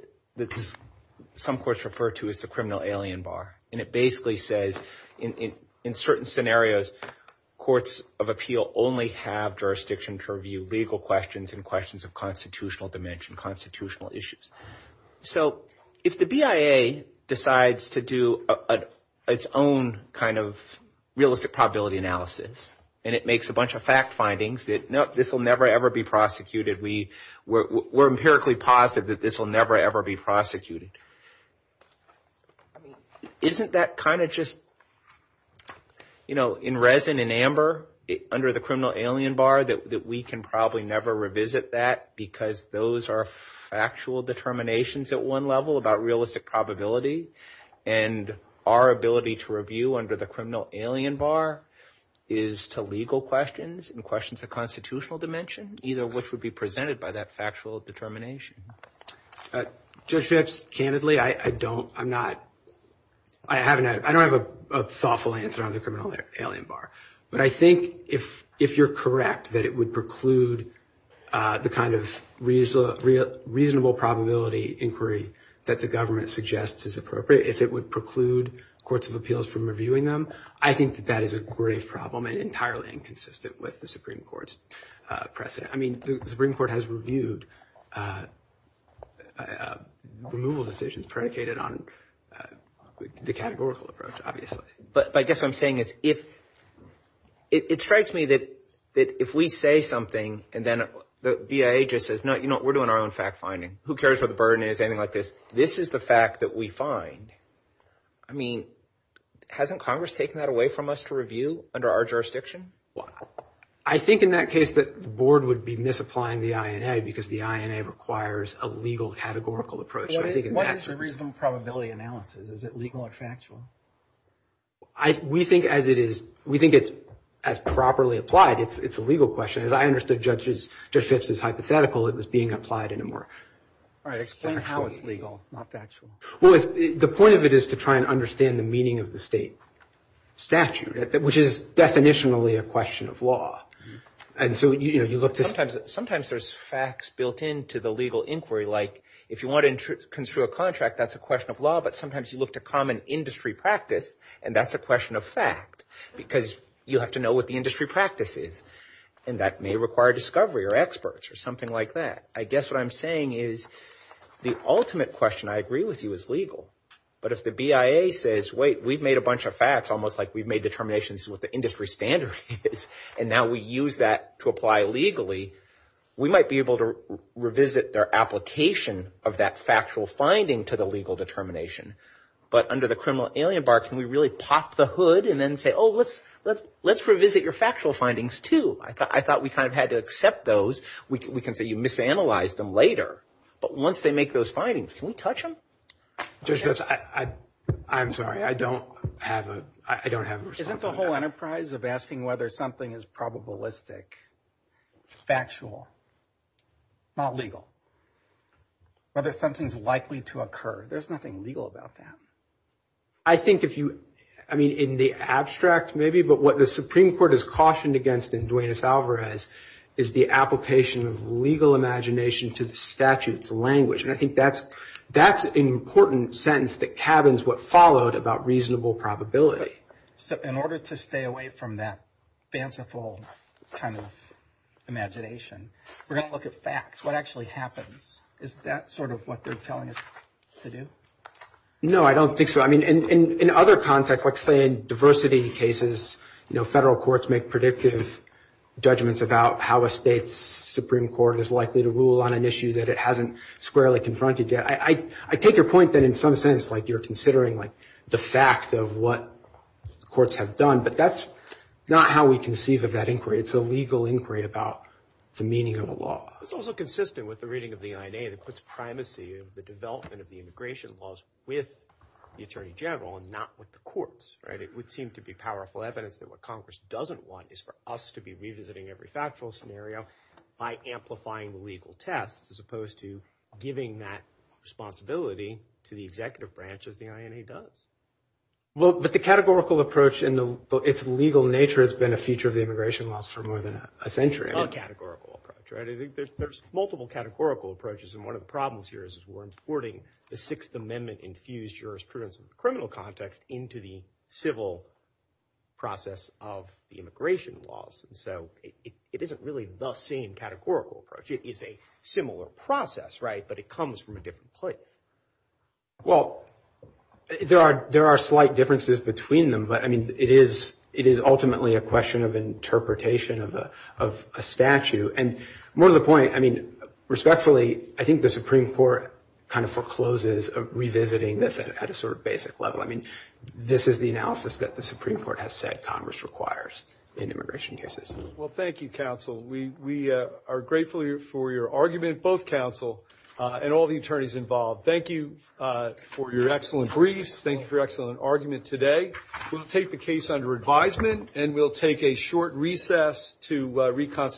some courts refer to as the criminal alien bar, and it basically says in certain scenarios, courts of appeal only have jurisdiction to review legal questions and questions of constitutional dimension, constitutional issues. So if the BIA decides to do its own kind of realistic probability analysis and it makes a bunch of fact findings that this will never, ever be prosecuted, we're empirically positive that this will never, ever be prosecuted. Isn't that kind of just, you know, in resin and amber under the criminal alien bar that we can probably never revisit that because those are factual determinations at one level about realistic probability and our ability to review under the criminal alien bar is to legal questions and questions of constitutional dimension, either of which would be presented by that factual determination. Judge Phipps, candidly, I don't, I'm not, I don't have a thoughtful answer on the criminal alien bar. But I think if you're correct that it would preclude the kind of reasonable probability inquiry that the government suggests is appropriate, if it would preclude courts of appeals from reviewing them, I think that that is a grave problem and entirely inconsistent with the Supreme Court's precedent. I mean, the Supreme Court has reviewed removal decisions predicated on the categorical approach, obviously. But I guess what I'm saying is if – it strikes me that if we say something and then the BIA just says, no, we're doing our own fact finding. Who cares what the burden is, anything like this? This is the fact that we find. I mean, hasn't Congress taken that away from us to review under our jurisdiction? I think in that case that the board would be misapplying the INA because the INA requires a legal categorical approach. What is the reasonable probability analysis? Is it legal or factual? We think as it is, we think it's as properly applied, it's a legal question. As I understood Judge Phipps' hypothetical, it was being applied in a more – All right, explain how it's legal, not factual. Well, the point of it is to try and understand the meaning of the state statute, which is definitionally a question of law. Sometimes there's facts built into the legal inquiry like if you want to construe a contract, that's a question of law. But sometimes you look to common industry practice and that's a question of fact because you have to know what the industry practice is. And that may require discovery or experts or something like that. I guess what I'm saying is the ultimate question I agree with you is legal. But if the BIA says, wait, we've made a bunch of facts almost like we've made determinations to what the industry standard is and now we use that to apply legally, we might be able to revisit their application of that factual finding to the legal determination. But under the criminal alien bar, can we really pop the hood and then say, oh, let's revisit your factual findings too. I thought we kind of had to accept those. We can say you misanalyzed them later. But once they make those findings, can we touch them? I'm sorry. I don't have it. Isn't the whole enterprise of asking whether something is probabilistic, factual, not legal? Whether something's likely to occur. There's nothing legal about that. I think if you, I mean, in the abstract maybe, but what the Supreme Court has cautioned against in Duenas-Alvarez is the application of legal imagination to the statute's language. And I think that's an important sentence that cabins what followed about reasonable probability. So in order to stay away from that fanciful kind of imagination, we're going to look at facts. What actually happens? Is that sort of what they're telling us to do? No, I don't think so. I mean, in other contexts, let's say in diversity cases, you know, federal courts make predictive judgments about how a state's Supreme Court is likely to rule on an issue that it hasn't squarely confronted yet. I take your point that in some sense, like, you're considering, like, the fact of what courts have done. But that's not how we conceive of that inquiry. It's a legal inquiry about the meaning of a law. It's also consistent with the reading of the INA that puts primacy of the development of the immigration laws with the attorney general and not with the courts, right? It would seem to be powerful evidence that what Congress doesn't want is for us to be revisiting every factual scenario by amplifying legal tests as opposed to giving that responsibility to the executive branch as the INA does. Well, but the categorical approach and its legal nature has been a feature of the immigration laws for more than a century. A categorical approach, right? I think there's multiple categorical approaches, and one of the problems here is we're importing the Sixth Amendment-infused jurisprudence in the criminal context into the civil process of the immigration laws. And so it isn't really the same categorical approach. It is a similar process, right, but it comes from a different place. Well, there are slight differences between them, but, I mean, it is ultimately a question of interpretation of a statute. And more to the point, I mean, respectfully, I think the Supreme Court kind of forecloses revisiting this at a sort of basic level. I mean, this is the analysis that the Supreme Court has said Congress requires in immigration cases. Well, thank you, counsel. We are grateful for your argument, both counsel and all the attorneys involved. Thank you for your excellent briefs. Thank you for your excellent argument today. We'll take the case under advisement, and we'll take a short recess to reconsider.